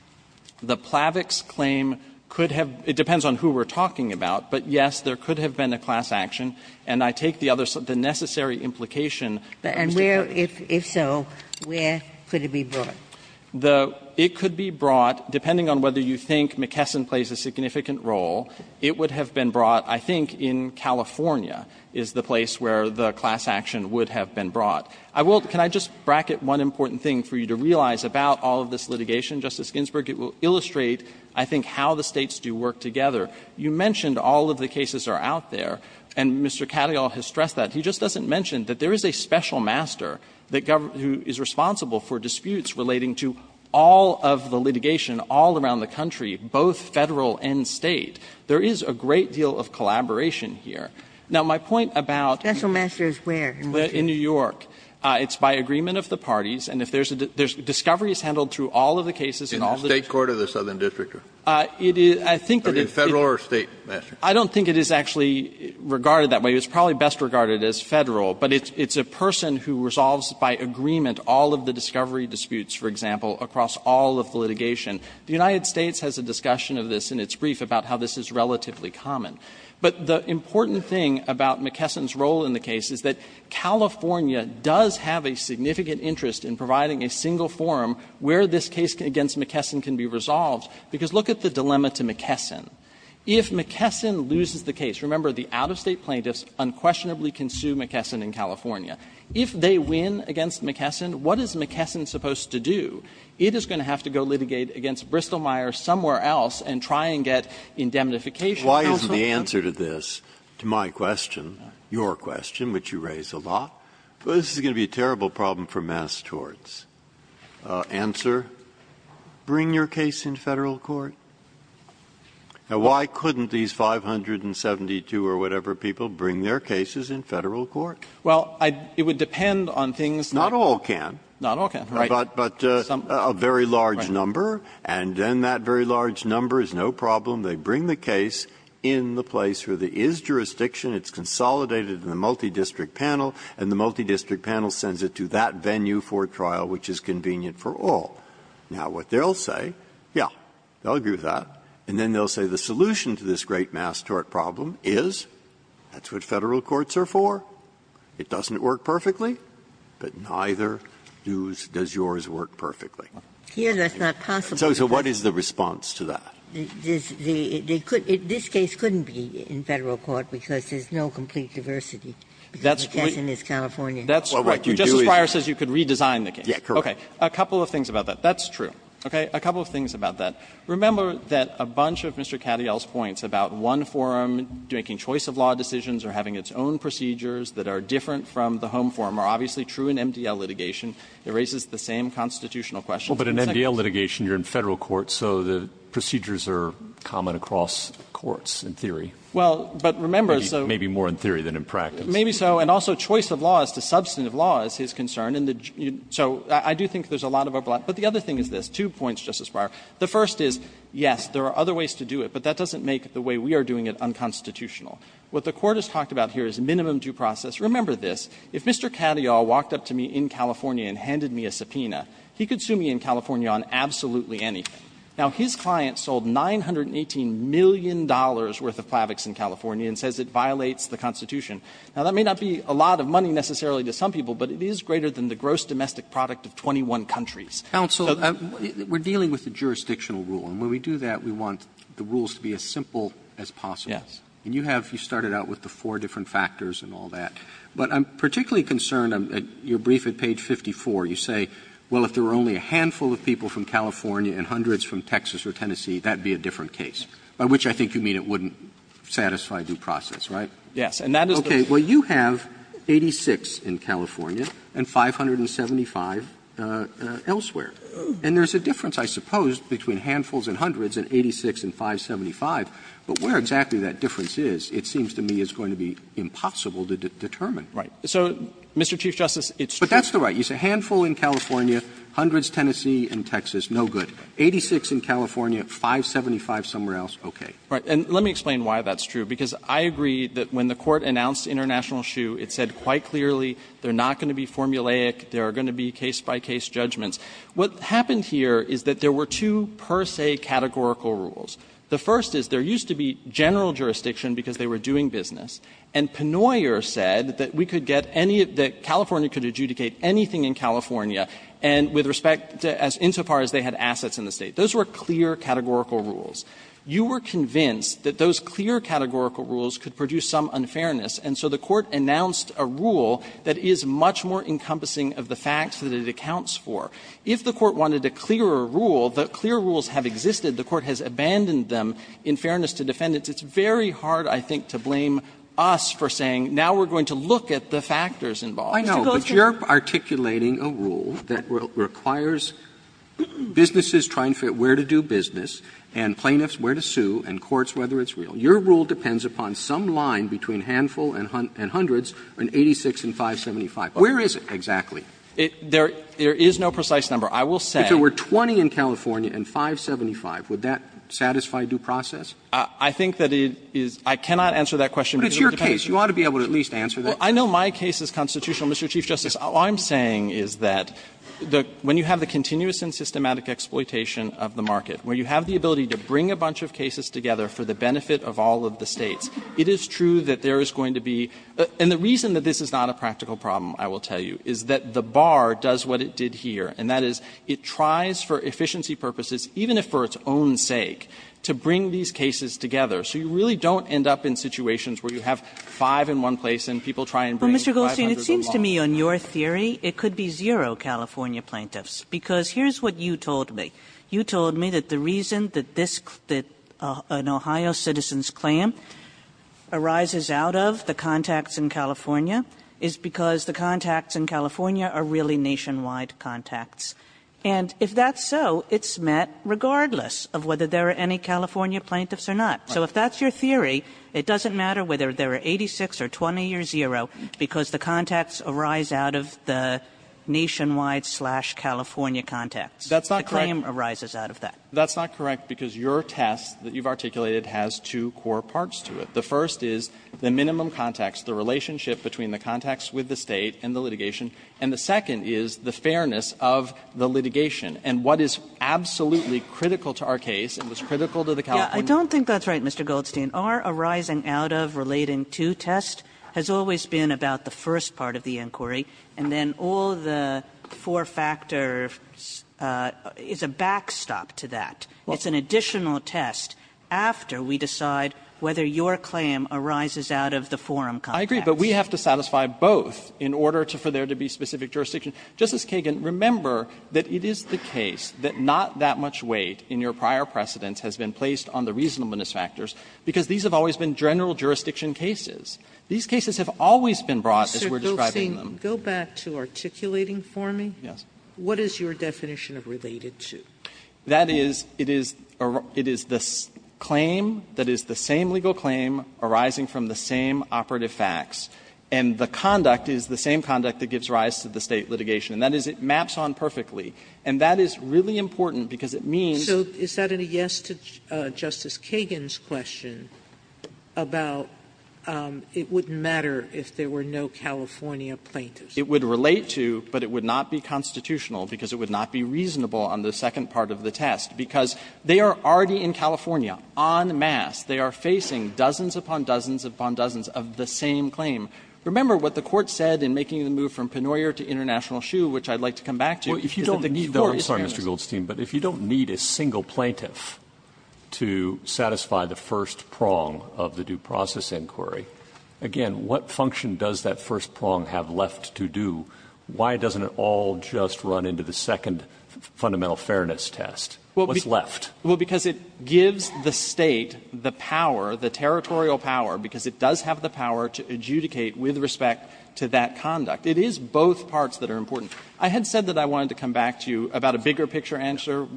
Fisherman The Plavix claim could have been, it depends on who we're talking about, but, yes, there could have been a class action. And I take the other, the necessary implication. Ginsburg-McKesson And where, if so, where could it be brought? Fisherman It could be brought, depending on whether you think McKesson plays a significant role, it would have been brought, I think, in California is the place where the class action would have been brought. I will, can I just bracket one important thing for you to realize about all of this litigation, Justice Ginsburg? It will illustrate, I think, how the States do work together. You mentioned all of the cases are out there, and Mr. Cadillac has stressed that. He just doesn't mention that there is a special master that governs, who is responsible for disputes relating to all of the litigation all around the country, both Federal and State. There is a great deal of collaboration here. Now, my point about the question is where? In New York. It's by agreement of the parties, and if there is a discovery is handled through all of the cases and all the disputes. Kennedy In the State court or the Southern district? Fisherman It is, I think that it is. Kennedy Federal or State master? Fisherman I don't think it is actually regarded that way. It's probably best regarded as Federal, but it's a person who resolves by agreement all of the discovery disputes, for example, across all of the litigation. The United States has a discussion of this in its brief about how this is relatively common. But the important thing about McKesson's role in the case is that California does have a significant interest in providing a single forum where this case against McKesson can be resolved, because look at the dilemma to McKesson. If McKesson loses the case, remember the out-of-State plaintiffs unquestionably can sue McKesson in California. If they win against McKesson, what is McKesson supposed to do? It is going to have to go litigate against Bristol-Myers somewhere else and try and get indemnification. Breyer, why isn't the answer to this, to my question, your question, which you raise a lot, well, this is going to be a terrible problem for mass torts. Answer, bring your case in Federal court. Now, why couldn't these 572 or whatever people bring their cases in Federal court? Fisherman Well, it would depend on things like the Justice Breyer. Breyer Not all can. Fisherman Not all can, right. Right. Breyer But a very large number. Fisherman Right. Breyer And then that very large number is no problem. They bring the case in the place where there is jurisdiction, it's consolidated in the multidistrict panel, and the multidistrict panel sends it to that venue for trial, which is convenient for all. Now, what they'll say, yes, they'll agree with that, and then they'll say the solution to this great mass tort problem is, that's what Federal courts are for, it doesn't work perfectly, but neither does yours work perfectly. Ginsburg Here, that's not possible. Breyer So what is the response to that? Ginsburg This case couldn't be in Federal court because there's no complete diversity. Breyer That's what you do is you could redesign the case. Breyer Yes, correct. Breyer Okay. A couple of things about that. That's true. Okay. A couple of things about that. Remember that a bunch of Mr. Cattell's points about one forum making choice of law decisions or having its own procedures that are different from the home forum are obviously true in MDL litigation. It raises the same constitutional questions. Breyer Well, but in MDL litigation, you're in Federal court, so the procedures are common across courts, in theory. Maybe more in theory than in practice. Gershengorn Maybe so, and also choice of law as to substantive law is his concern. So I do think there's a lot of overlap. But the other thing is this, two points, Justice Breyer. The first is, yes, there are other ways to do it, but that doesn't make the way we are doing it unconstitutional. What the Court has talked about here is minimum due process. Remember this. If Mr. Cattell walked up to me in California and handed me a subpoena, he could sue me in California on absolutely anything. Now, his client sold $918 million worth of plavix in California and says it violates the Constitution. Now, that may not be a lot of money necessarily to some people, but it is greater than the gross domestic product of 21 countries. Roberts, we're dealing with a jurisdictional rule, and when we do that, we want the rules to be as simple as possible. Gershengorn Yes. Roberts, and you have you started out with the four different factors and all that. But I'm particularly concerned, your brief at page 54, you say, well, if there were only a handful of people from California and hundreds from Texas or Tennessee, that would be a different case, by which I think you mean it wouldn't satisfy due process, right? Gershengorn Yes. And that is the point. Roberts, well, you have 86 in California and 575 elsewhere, and there's a difference, I suppose, between handfuls and hundreds and 86 and 575. But where exactly that difference is, it seems to me is going to be impossible to determine. Gershengorn Right. So, Mr. Chief Justice, it's true. Roberts, but that's the right. You say handful in California, hundreds Tennessee and Texas, no good. 86 in California, 575 somewhere else, okay. Gershengorn Right. And let me explain why that's true, because I agree that when the Court announced international shoe, it said quite clearly they're not going to be formulaic, there are going to be case-by-case judgments. What happened here is that there were two per se categorical rules. The first is there used to be general jurisdiction because they were doing business. And Penoyer said that we could get any of the – California could adjudicate anything in California and with respect to as – insofar as they had assets in the State. Those were clear categorical rules. You were convinced that those clear categorical rules could produce some unfairness, and so the Court announced a rule that is much more encompassing of the facts that it accounts for. If the Court wanted a clearer rule, the clear rules have existed. The Court has abandoned them in fairness to defendants. It's very hard, I think, to blame us for saying now we're going to look at the factors involved. Roberts' I know, but you're articulating a rule that requires businesses trying to figure out where to do business and plaintiffs where to sue and courts whether it's real. Your rule depends upon some line between handful and hundreds in 86 and 575. Where is it exactly? Gershengorn There is no precise number. I will say – Roberts If there were 20 in California and 575, would that satisfy due process? Gershengorn I think that it is – I cannot answer that question because it depends Roberts But it's your case. You ought to be able to at least answer that. Gershengorn Well, I know my case is constitutional, Mr. Chief Justice. All I'm saying is that when you have the continuous and systematic exploitation of the market, where you have the ability to bring a bunch of cases together for the benefit of all of the States, it is true that there is going to be – and the reason that this is not a practical problem, I will tell you, is that the bar does what it did here, and that is it tries for efficiency purposes, even if for its own sake, to bring these cases together. So you really don't end up in situations where you have five in one place and people try and bring 500 in one place. Kagan Well, Mr. Gershengorn, it seems to me, on your theory, it could be zero California plaintiffs, because here is what you told me. You told me that the reason that this – that an Ohio citizen's claim arises out of the contacts in California is because the contacts in California are really nationwide contacts. And if that's so, it's met regardless of whether there are any California plaintiffs or not. So if that's your theory, it doesn't matter whether there are 86 or 20 or zero, because the contacts arise out of the nationwide slash California contacts. Gershengorn That's not correct. Kagan The claim arises out of that. Gershengorn That's not correct, because your test that you've articulated has two core parts to it. The first is the minimum contacts, the relationship between the contacts with the litigation, and what is absolutely critical to our case and was critical to the California case. Kagan Yeah, I don't think that's right, Mr. Goldstein. Our arising out of relating to test has always been about the first part of the inquiry. And then all the four factors is a backstop to that. It's an additional test after we decide whether your claim arises out of the forum contacts. Goldstein I agree, but we have to satisfy both in order for there to be specific jurisdiction. Justice Kagan, remember that it is the case that not that much weight in your prior precedents has been placed on the reasonableness factors, because these have always been general jurisdiction cases. These cases have always been brought as we're describing them. Sotomayor Sir, Goldstein, go back to articulating for me. Goldstein Yes. Sotomayor What is your definition of related to? Goldstein That is, it is the claim that is the same legal claim arising from the same operative facts, and the conduct is the same conduct that gives rise to the State litigation. And that is, it maps on perfectly, and that is really important because it means Sotomayor So is that a yes to Justice Kagan's question about it wouldn't matter if there were no California plaintiffs? Goldstein It would relate to, but it would not be constitutional because it would not be reasonable on the second part of the test, because they are already in California en masse. They are facing dozens upon dozens upon dozens of the same claim. Remember what the Court said in making the move from Penoyer to International Shoe, which I'd like to come back to. Breyer If you don't need to, I'm sorry, Mr. Goldstein, but if you don't need a single plaintiff to satisfy the first prong of the due process inquiry, again, what function does that first prong have left to do? Why doesn't it all just run into the second fundamental fairness test? What's left? Goldstein Well, because it gives the State the power, the territorial power, because it does have the power to adjudicate with respect to that conduct. It is both parts that are important. I had said that I wanted to come back to you about a bigger picture answer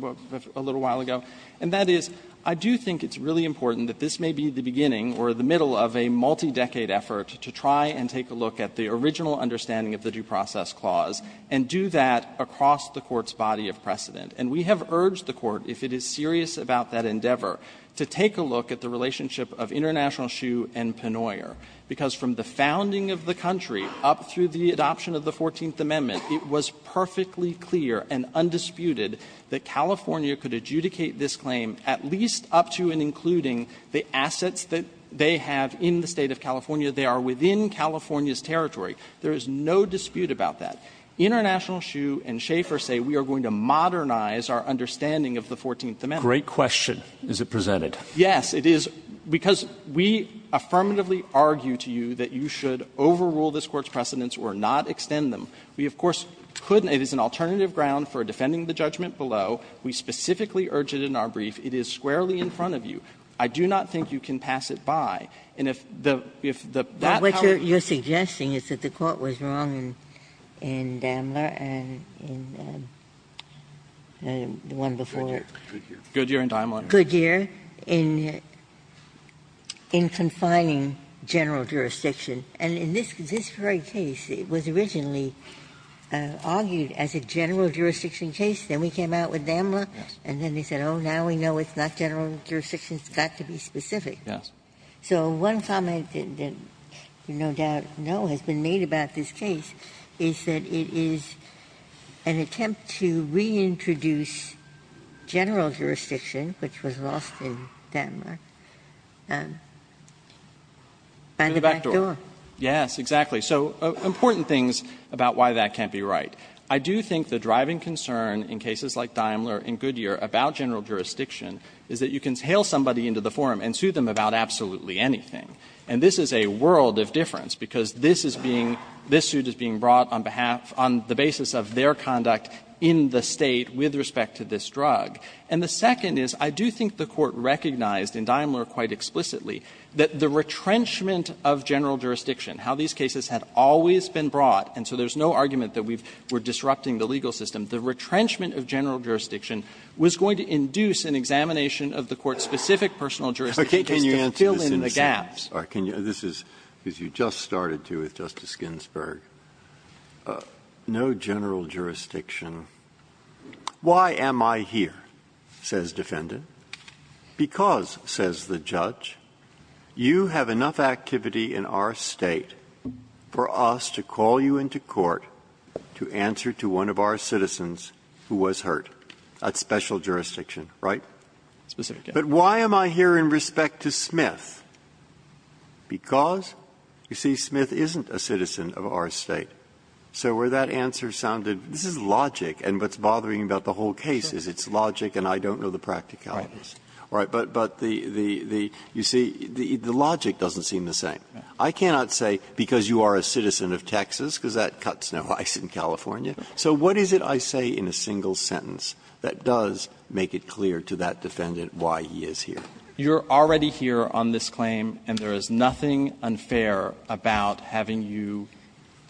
a little while ago, and that is, I do think it's really important that this may be the beginning or the middle of a multi-decade effort to try and take a look at the original understanding of the due process clause and do that across the Court's body of precedent. And we have urged the Court, if it is serious about that endeavor, to take a look at the relationship of International Shoe and Pennoyer, because from the founding of the country up through the adoption of the Fourteenth Amendment, it was perfectly clear and undisputed that California could adjudicate this claim at least up to and including the assets that they have in the State of California. They are within California's territory. There is no dispute about that. International Shoe and Schaefer say we are going to modernize our understanding of the Fourteenth Amendment. Robertson Great question. Is it presented? Yes, it is, because we affirmatively argue to you that you should overrule this Court's precedents or not extend them. We, of course, couldn't. It is an alternative ground for defending the judgment below. We specifically urge it in our brief. It is squarely in front of you. I do not think you can pass it by. And if the – if the power of the Court's decision to extend the precedents of the Fourteenth Amendment is not a good thing, then it is not a good thing. Ginsburg. Ginsburg. The one before. Good year. Good year in Daimler. Good year in confining general jurisdiction. And in this very case, it was originally argued as a general jurisdiction case, then we came out with Daimler, and then they said, oh, now we know it's not general jurisdiction, it's got to be specific. Yes. So one comment that you no doubt know has been made about this case is that it is an attempt to reintroduce general jurisdiction, which was lost in Daimler, by the back door. Yes, exactly. So important things about why that can't be right. I do think the driving concern in cases like Daimler and Goodyear about general jurisdiction is that you can hail somebody into the forum and sue them about absolutely anything. And this is a world of difference, because this is being – this suit is being brought on behalf – on the basis of their conduct in the State with respect to this drug. And the second is, I do think the Court recognized in Daimler quite explicitly that the retrenchment of general jurisdiction, how these cases had always been brought – and so there's no argument that we've – we're disrupting the legal system – the retrenchment of general jurisdiction was going to induce an examination of the Court's specific personal jurisdiction case to fill in the gaps. Breyer. Can you – this is – because you just started, too, with Justice Ginsburg. No general jurisdiction. Why am I here, says defendant? Because, says the judge, you have enough activity in our State for us to call you into court to answer to one of our citizens who was hurt. That's special jurisdiction, right? Yes, sir. But why am I here in respect to Smith? Because, you see, Smith isn't a citizen of our State. So where that answer sounded – this is logic, and what's bothering me about the whole case is it's logic and I don't know the practicalities. Right. But the – you see, the logic doesn't seem the same. I cannot say because you are a citizen of Texas, because that cuts no ice in California. So what is it I say in a single sentence that does make it clear to that defendant why he is here? You're already here on this claim and there is nothing unfair about having you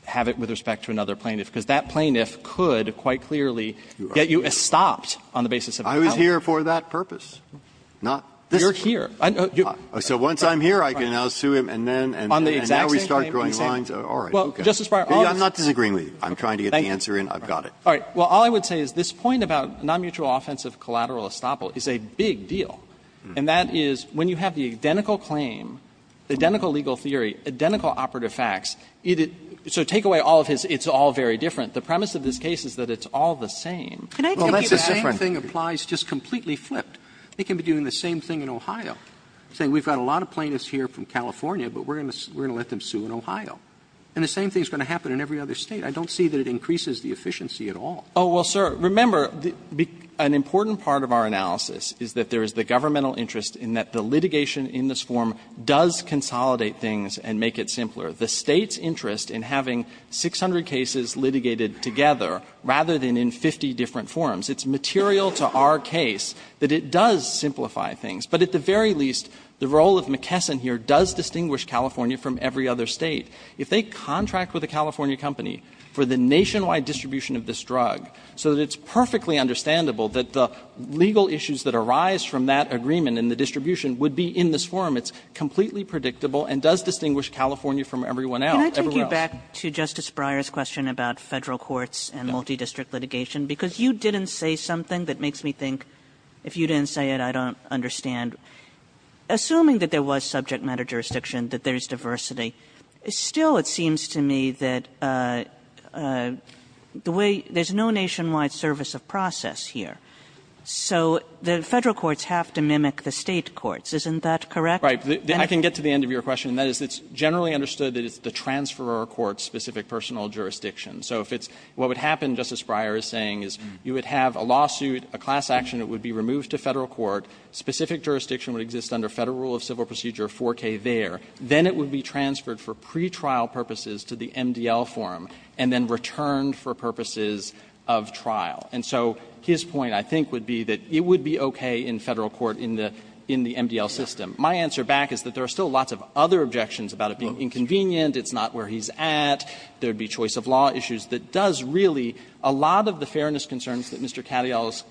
have it with respect to another plaintiff, because that plaintiff could quite clearly get you estopped on the basis of how you were here. I was here for that purpose, not this. You're here. So once I'm here, I can now sue him and then we start drawing lines? All right. Well, Justice Breyer, all I'm saying is this point about nonmutual offensive collateral estoppel is a big deal. And that is when you have the identical claim, identical legal theory, identical operative facts, so take away all of his, it's all very different. The premise of this case is that it's all the same. Can I take it at? Well, that's the same thing applies just completely flipped. They can be doing the same thing in Ohio, saying we've got a lot of plaintiffs here from California, but we're going to let them sue in Ohio. And the same thing is going to happen in every other State. I don't see that it increases the efficiency at all. Oh, well, sir, remember, an important part of our analysis is that there is the governmental interest in that the litigation in this form does consolidate things and make it simpler. The State's interest in having 600 cases litigated together rather than in 50 different forms, it's material to our case that it does simplify things. But at the very least, the role of McKesson here does distinguish California from every other State. If they contract with a California company for the nationwide distribution of this drug, so that it's perfectly understandable that the legal issues that arise from that agreement and the distribution would be in this form, it's completely predictable and does distinguish California from everyone else. Kagan. Can I take you back to Justice Breyer's question about Federal courts and multidistrict litigation, because you didn't say something that makes me think, if you didn't say it, I don't understand. Assuming that there was subject matter jurisdiction, that there's diversity, still it seems to me that the way there's no nationwide service of process here. So the Federal courts have to mimic the State courts. Isn't that correct? Right. I can get to the end of your question. And that is, it's generally understood that it's the transferor court's specific personal jurisdiction. So if it's what would happen, Justice Breyer is saying, is you would have a lawsuit, a class action that would be removed to Federal court, specific jurisdiction would exist under Federal rule of civil procedure 4K there. Then it would be transferred for pretrial purposes to the MDL forum and then returned for purposes of trial. And so his point, I think, would be that it would be okay in Federal court in the MDL system. My answer back is that there are still lots of other objections about it being inconvenient, it's not where he's at, there would be choice of law issues that does really a lot of the fairness concerns that Mr. Cattell is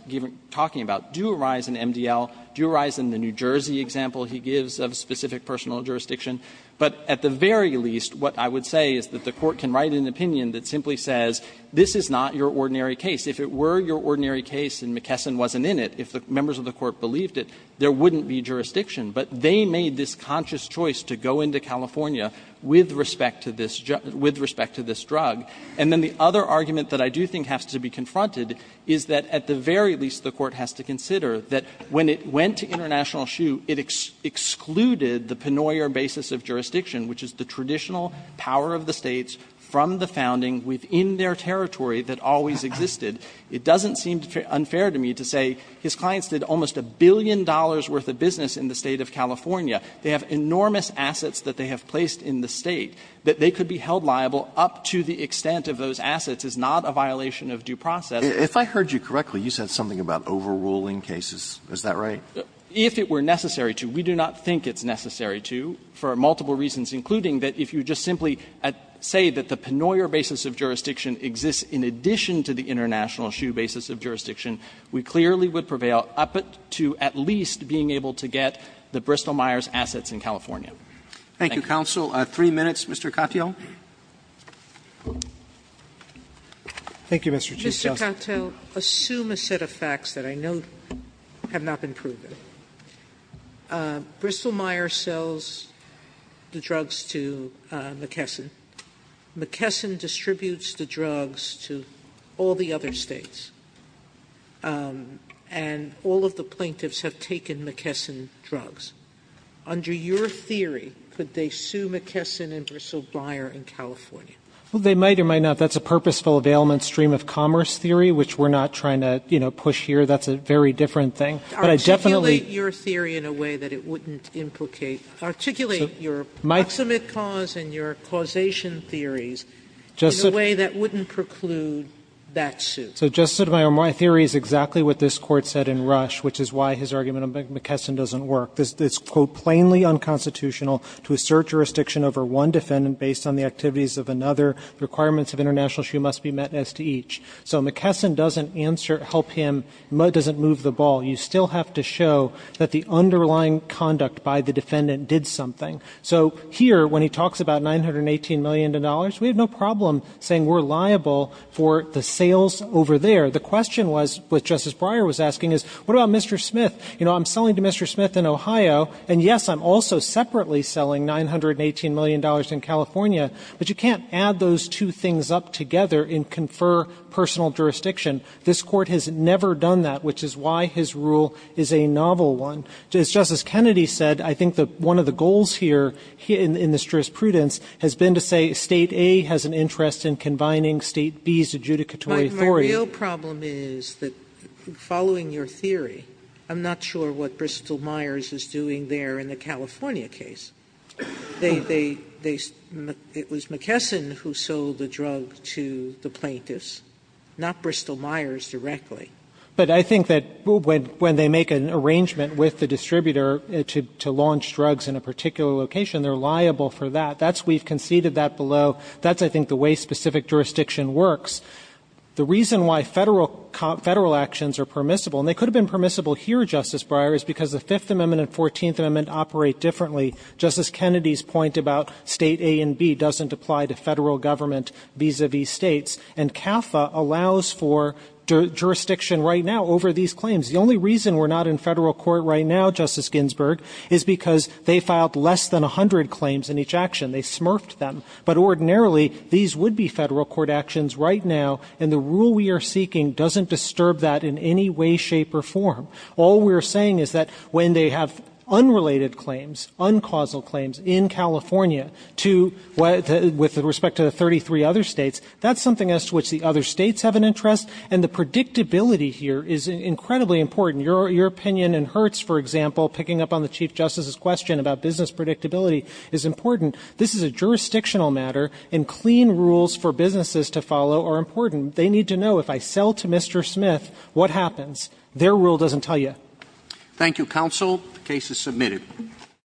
talking about do arise in MDL, do arise in the New Jersey example he gives of specific personal jurisdiction. But at the very least, what I would say is that the Court can write an opinion that simply says, this is not your ordinary case. If it were your ordinary case and McKesson wasn't in it, if the members of the Court believed it, there wouldn't be jurisdiction. But they made this conscious choice to go into California with respect to this drug. And then the other argument that I do think has to be confronted is that at the very least, the Court has to consider that when it went to international shoe, it excluded the Penoyer basis of jurisdiction, which is the traditional power of the States from the founding within their territory that always existed. It doesn't seem unfair to me to say his clients did almost a billion dollars worth of business in the State of California. They have enormous assets that they have placed in the State, that they could be held liable up to the extent of those assets is not a violation of due process. Roberts If I heard you correctly, you said something about overruling cases. Is that right? Winsor If it were necessary to, we do not think it's necessary to, for multiple reasons, including that if you just simply say that the Penoyer basis of jurisdiction exists in addition to the international shoe basis of jurisdiction, we clearly would prevail up to at least being able to get the Bristol-Myers assets in California. Roberts Thank you, counsel. Three minutes, Mr. Katyal. Thank you, Mr. Chisholm. Sotomayor Mr. Katyal, assume a set of facts that I know have not been proven. Bristol-Myers sells the drugs to McKesson. McKesson distributes the drugs to all the other States. And all of the plaintiffs have taken McKesson drugs. Under your theory, could they sue McKesson and Bristol-Myers in California? Katyal Well, they might or might not. That's a purposeful availment stream of commerce theory, which we're not trying to, you know, push here. That's a very different thing. But I definitely Sotomayor Articulate your theory in a way that it wouldn't implicate, articulate your approximate cause and your causation theories in a way that wouldn't preclude that suit. Katyal So, Justice Sotomayor, my theory is exactly what this Court said in Rush, which is why his argument on McKesson doesn't work. It's, quote, plainly unconstitutional to assert jurisdiction over one defendant based on the activities of another. The requirements of international issue must be met as to each. So McKesson doesn't answer, help him, doesn't move the ball. You still have to show that the underlying conduct by the defendant did something. So here, when he talks about $918 million, we have no problem saying we're liable for the sales over there. The question was, what Justice Breyer was asking is, what about Mr. Smith? You know, I'm selling to Mr. Smith in Ohio, and, yes, I'm also separately selling $918 million in California, but you can't add those two things up together and confer personal jurisdiction. This Court has never done that, which is why his rule is a novel one. As Justice Kennedy said, I think that one of the goals here in this jurisprudence has been to say State A has an interest in combining State B's adjudicatory authority. Sotomayor, the real problem is that, following your theory, I'm not sure what Bristol-Meyers is doing there in the California case. They they they it was McKesson who sold the drug to the plaintiffs, not Bristol-Meyers directly. But I think that when they make an arrangement with the distributor to launch drugs in a particular location, they're liable for that. That's we've conceded that below. That's, I think, the way specific jurisdiction works. The reason why Federal Actions are permissible, and they could have been permissible here, Justice Breyer, is because the Fifth Amendment and Fourteenth Amendment operate differently. Justice Kennedy's point about State A and B doesn't apply to Federal government vis-a-vis States, and CAFA allows for jurisdiction right now over these claims. The only reason we're not in Federal court right now, Justice Ginsburg, is because they filed less than 100 claims in each action. They smurfed them. But ordinarily, these would be Federal court actions right now, and the rule we are seeking doesn't disturb that in any way, shape, or form. All we're saying is that when they have unrelated claims, uncausal claims in California with respect to the 33 other states, that's something as to which the other states have an interest, and the predictability here is incredibly important. Your opinion in Hertz, for example, picking up on the Chief Justice's question about business predictability is important. This is a jurisdictional matter, and clean rules for businesses to follow are important. They need to know if I sell to Mr. Smith, what happens? Their rule doesn't tell you. Roberts. Thank you, counsel. The case is submitted.